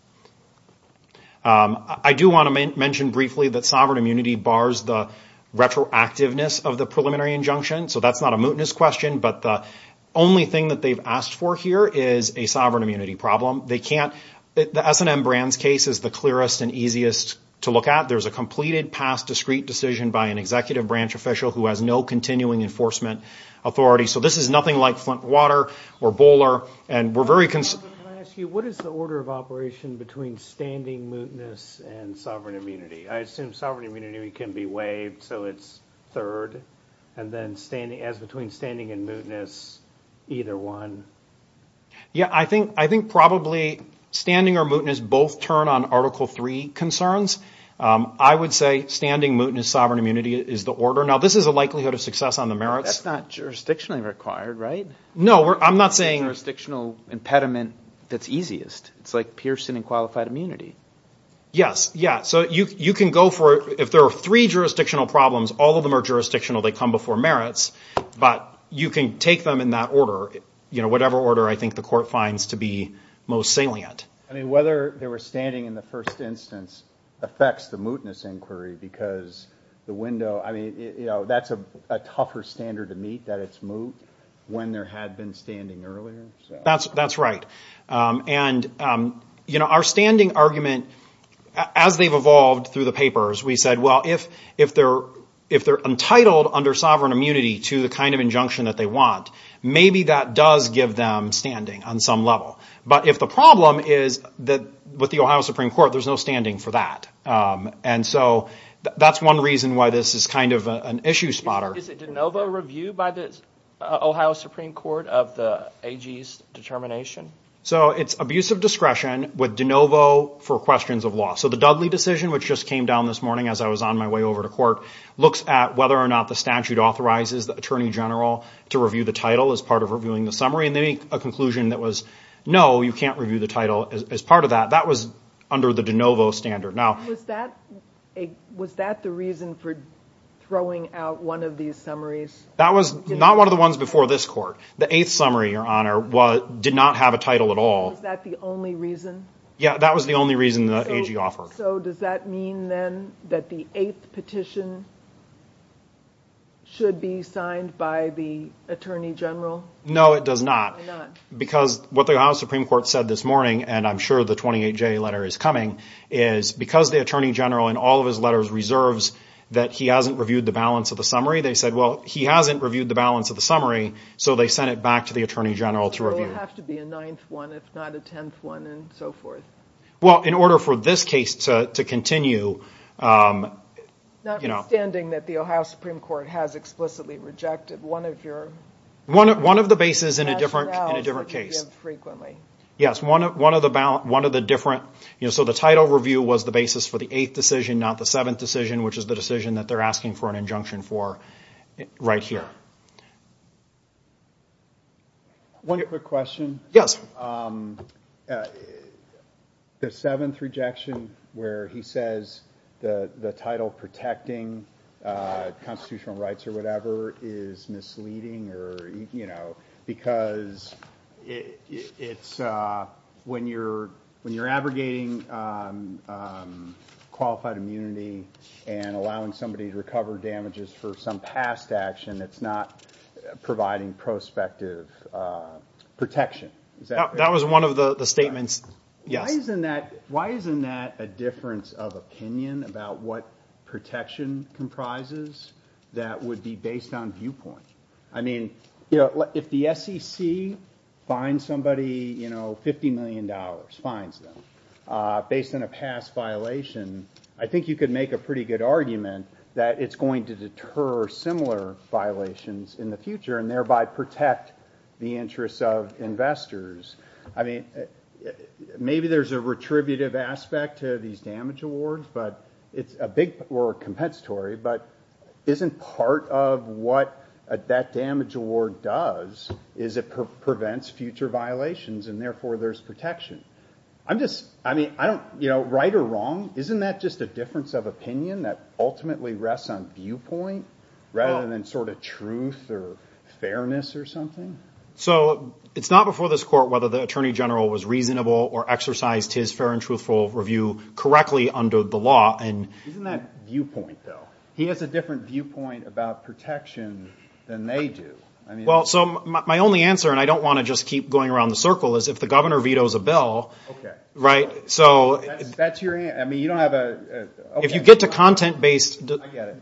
I do want to mention briefly that sovereign immunity bars the retroactiveness of the preliminary injunction. So that's not a mootness question, but the only thing that they've asked for here is a sovereign immunity problem. They can't- The S&M Brands case is the clearest and easiest to look at. There's a completed past discreet decision by an executive branch official who has no continuing enforcement authority. So this is nothing like Flint Water or Bowler. And we're very- May I ask you, what is the order of operation between standing mootness and sovereign immunity? I assume sovereign immunity can be waived. So it's third. And then as between standing and mootness, either one. Yeah, I think probably standing or mootness both turn on Article III concerns. I would say standing mootness, sovereign immunity is the order. Now, this is a likelihood of success on the merits. That's not jurisdictionally required, right? No, I'm not saying- Jurisdictional impediment that's easiest. It's like Pearson and qualified immunity. Yes, yeah. So you can go for, if there are three jurisdictional problems, all of them are jurisdictional. They come before merits. But you can take them in that order, whatever order I think the court finds to be most salient. I mean, whether they were standing in the first instance affects the mootness inquiry because the window, I mean, that's a tougher standard to meet, that it's moot when there had been standing earlier. That's right. And our standing argument, as they've evolved through the papers, we said, well, if they're entitled under sovereign immunity to the kind of injunction that they want, maybe that does give them standing on some level. But if the problem is that with the Ohio Supreme Court, there's no standing for that. And so that's one reason why this is kind of an issue spotter. Is it de novo review by the Ohio Supreme Court of the AG's determination? So it's abuse of discretion with de novo for questions of law. So the Dudley decision, which just came down this morning as I was on my way over to court, looks at whether or not the statute authorizes the attorney general to review the title as part of reviewing the summary. And they make a conclusion that was, no, you can't review the title as part of that. That was under the de novo standard. Now- Was that the reason for throwing out one of these summaries? That was not one of the ones before this court. The eighth summary, Your Honor, did not have a title at all. Was that the only reason? Yeah, that was the only reason that AG offered. So does that mean then that the eighth petition should be signed by the attorney general? No, it does not. Because what the Ohio Supreme Court said this morning, and I'm sure the 28-J letter is coming, is because the attorney general in all of his letters reserves that he hasn't reviewed the balance of the summary, they said, well, he hasn't reviewed the balance of the summary. So they sent it back to the attorney general to review it. Does it have to be a ninth one, if not a tenth one, and so forth? Well, in order for this case to continue- Notwithstanding that the Ohio Supreme Court has explicitly rejected one of your- One of the bases in a different case. Yes, one of the different- So the title review was the basis for the eighth decision, not the seventh decision, which is the decision that they're asking for an injunction for right here. One quick question. The seventh rejection, where he says the title protecting constitutional rights or whatever is misleading, because when you're abrogating qualified immunity and allowing somebody to recover damages for some past action, it's not providing prospective protection. That was one of the statements, yes. Why isn't that a difference of opinion about what protection comprises that would be based on viewpoint? I mean, if the SEC fines somebody $50 million, fines them, based on a past violation, I think you could make a pretty good argument that it's going to deter similar violations in the future and thereby protect the interests of investors. I mean, maybe there's a retributive aspect to these damage awards, or compensatory, but isn't part of what that damage award does is it prevents future violations, and therefore there's protection? I'm just, I mean, right or wrong, isn't that just a difference of opinion that ultimately rests on viewpoint, rather than sort of truth or fairness or something? So it's not before this court whether the attorney general was reasonable or exercised his fair and truthful review correctly under the law. And isn't that viewpoint, though? He has a different viewpoint about protection than they do. Well, so my only answer, and I don't want to just keep going around the circle, is if the governor vetoes a bill, right? So that's your, I mean, you don't have a, OK. If you get to content-based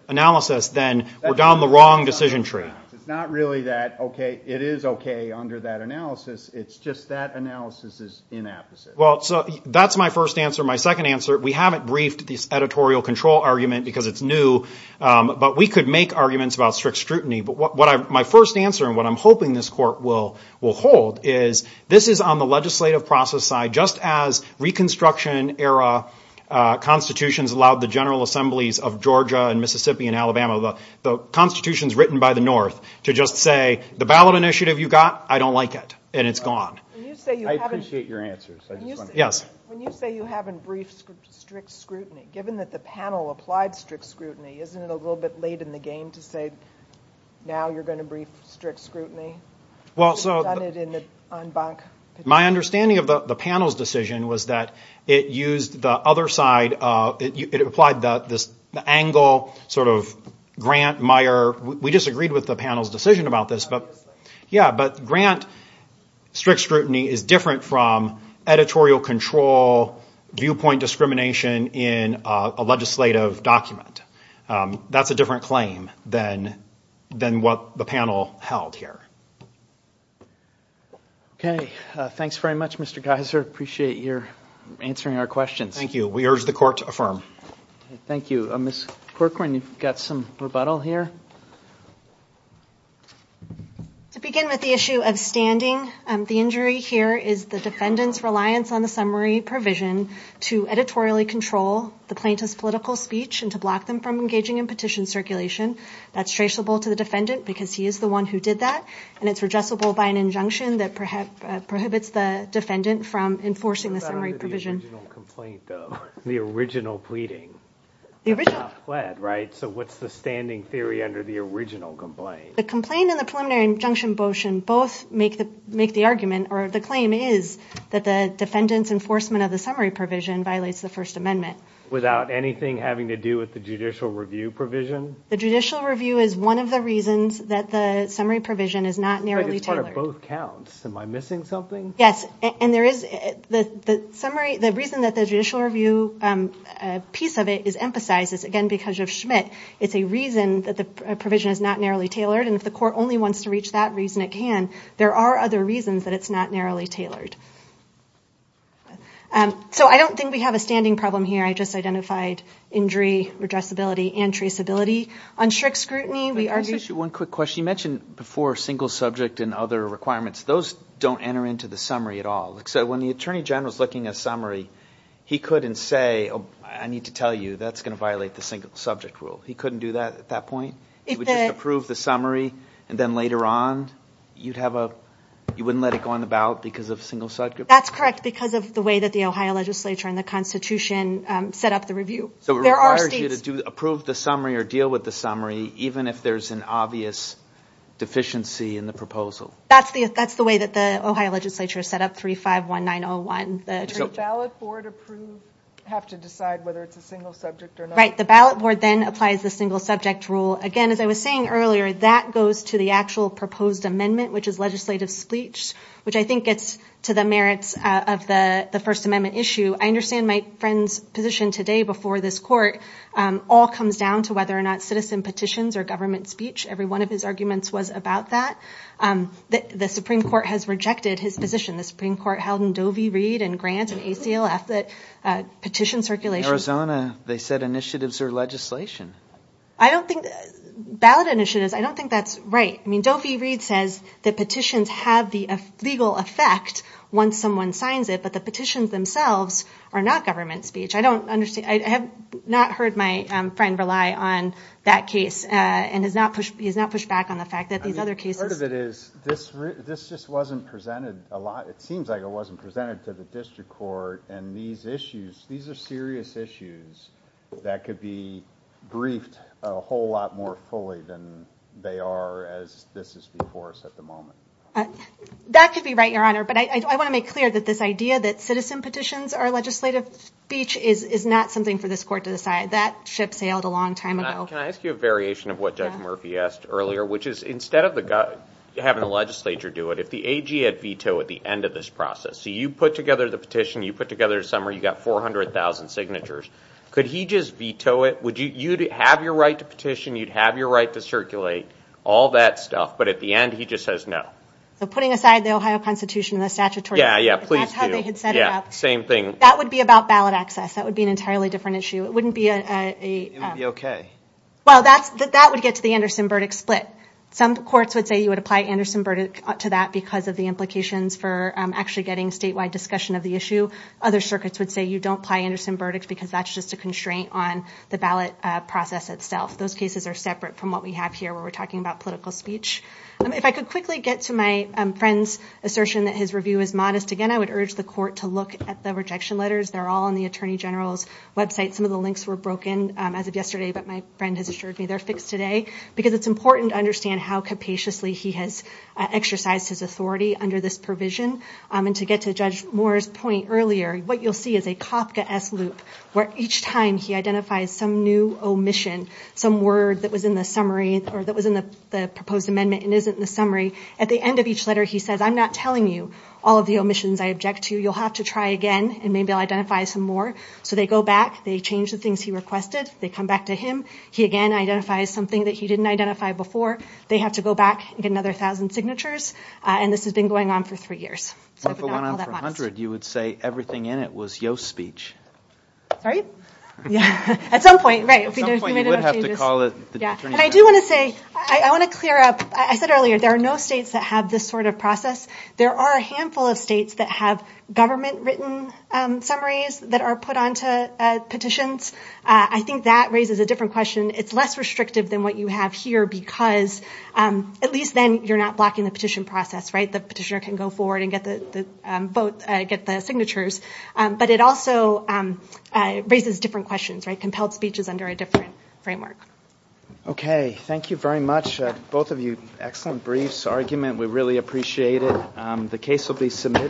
analysis, then we're down the wrong decision tree. It's not really that, OK, it is OK under that analysis. It's just that analysis is inappropriate. Well, so that's my first answer. My second answer, we haven't briefed this editorial control argument because it's new. But we could make arguments about strict scrutiny. But my first answer, and what I'm hoping this court will hold, is this is on the legislative process side, just as Reconstruction-era constitutions allowed the General Assemblies of Georgia and Mississippi and Alabama, the constitutions written by the North, to just say, the ballot initiative you got, I don't like it. And it's gone. I appreciate your answers. Yes? When you say you haven't briefed strict scrutiny, given that the panel applied strict scrutiny, isn't it a little bit late in the game to say, now you're going to brief strict scrutiny? Well, so my understanding of the panel's decision was that it applied this angle, sort of Grant-Meyer. We disagreed with the panel's decision about this. But Grant, strict scrutiny is different from editorial control, viewpoint discrimination in a legislative document. That's a different claim than what the panel held here. OK. Thanks very much, Mr. Geiser. Appreciate your answering our questions. Thank you. We urge the court to affirm. Thank you. Ms. Corcoran, you've got some rebuttal here. To begin with the issue of standing, the injury here is the defendant's reliance on the summary provision to editorially control the plaintiff's political speech and to block them from engaging in petition circulation. That's traceable to the defendant, because he is the one who did that. And it's redressable by an injunction that prohibits the defendant from enforcing the summary provision. What about under the original complaint, though? The original pleading? The original. So what's the standing theory under the original complaint? The complaint and the preliminary injunction both make the argument, or the claim is, that the defendant's enforcement of the summary provision violates the First Amendment. Without anything having to do with the judicial review provision? The judicial review is one of the reasons that the summary provision is not narrowly tailored. Why are both counts? Am I missing something? Yes. And the reason that the judicial review piece of it is emphasized is, again, because of Schmidt. It's a reason that the provision is not narrowly tailored. And if the court only wants to reach that reason, it can. There are other reasons that it's not narrowly tailored. So I don't think we have a standing problem here. I just identified injury, redressability, and traceability. On strict scrutiny, we are using- One quick question. You mentioned before, single subject and other requirements. Those don't enter into the summary at all. So when the attorney general is looking at a summary, he couldn't say, I need to tell you, that's going to violate the single subject rule. He couldn't do that at that point? He would just approve the summary, and then later on, you wouldn't let it go on the ballot because of single subject? That's correct, because of the way that the Ohio legislature and the Constitution set up the review. So it requires you to approve the summary or deal with the summary, even if there's an obvious deficiency in the proposal. That's the way that the Ohio legislature set up 351901. The attorney general. Does the ballot board approve, have to decide whether it's a single subject or not? Right. The ballot board then applies the single subject rule. Again, as I was saying earlier, that goes to the actual proposed amendment, which is legislative spleech, which I think gets to the merits of the First Amendment issue. I understand my friend's position today before this court all comes down to whether or not citizen petitions or government speech, every one of his arguments was about that. The Supreme Court has rejected his position. The Supreme Court held in Doe v. Reed and Grant and ACLF that petition circulation. In Arizona, they said initiatives are legislation. I don't think ballot initiatives, I don't think that's right. I mean, Doe v. Reed says that petitions have the legal effect once someone signs it, but the petitions themselves are not government speech. I have not heard my friend rely on that case and he's not pushed back on the fact that these other cases. Part of it is this just wasn't presented a lot. It seems like it wasn't presented to the district court. And these issues, these are serious issues that could be briefed a whole lot more fully than they are as this is before us at the moment. That could be right, Your Honor. But I want to make clear that this idea that citizen speech is not something for this court to decide. That ship sailed a long time ago. Can I ask you a variation of what Judge Murphy asked earlier, which is instead of having the legislature do it, if the AG had vetoed at the end of this process, so you put together the petition, you put together a summary, you got 400,000 signatures. Could he just veto it? Would you have your right to petition, you'd have your right to circulate, all that stuff. But at the end, he just says no. So putting aside the Ohio Constitution and the statutory right, that's how they had set it up. Same thing. That would be about ballot access. That would be an entirely different issue. It wouldn't be a- Well, that would get to the Anderson-Burdick split. Some courts would say you would apply Anderson-Burdick to that because of the implications for actually getting statewide discussion of the issue. Other circuits would say you don't apply Anderson-Burdick because that's just a constraint on the ballot process itself. Those cases are separate from what we have here, where we're talking about political speech. If I could quickly get to my friend's assertion that his review is modest, again, I would urge the court to look at the rejection letters. They're all on the Attorney General's website. Some of the links were broken as of yesterday, but my friend has assured me they're fixed today. Because it's important to understand how capaciously he has exercised his authority under this provision. And to get to Judge Moore's point earlier, what you'll see is a Kafka-esque loop, where each time he identifies some new omission, some word that was in the summary or that was in the proposed amendment and isn't in the summary, at the end of each letter, he says, I'm not telling you all of the omissions I object to. You'll have to try again, and maybe I'll identify some more. So they go back. They change the things he requested. They come back to him. He again identifies something that he didn't identify before. They have to go back and get another 1,000 signatures. And this has been going on for three years. If it went on for 100, you would say everything in it was Yoast speech. Right? Yeah, at some point, right. At some point, you would have to call the Attorney General. And I do want to say, I want to clear up, I said earlier, there are no states that have this sort of process. There are a handful of states that have government-written summaries that are put onto petitions. I think that raises a different question. It's less restrictive than what you have here, because at least then, you're not blocking the petition process. The petitioner can go forward and get the signatures. But it also raises different questions. Compelled speech is under a different framework. OK, thank you very much. Both of you, excellent briefs, argument. We really appreciate it. The case will be submitted.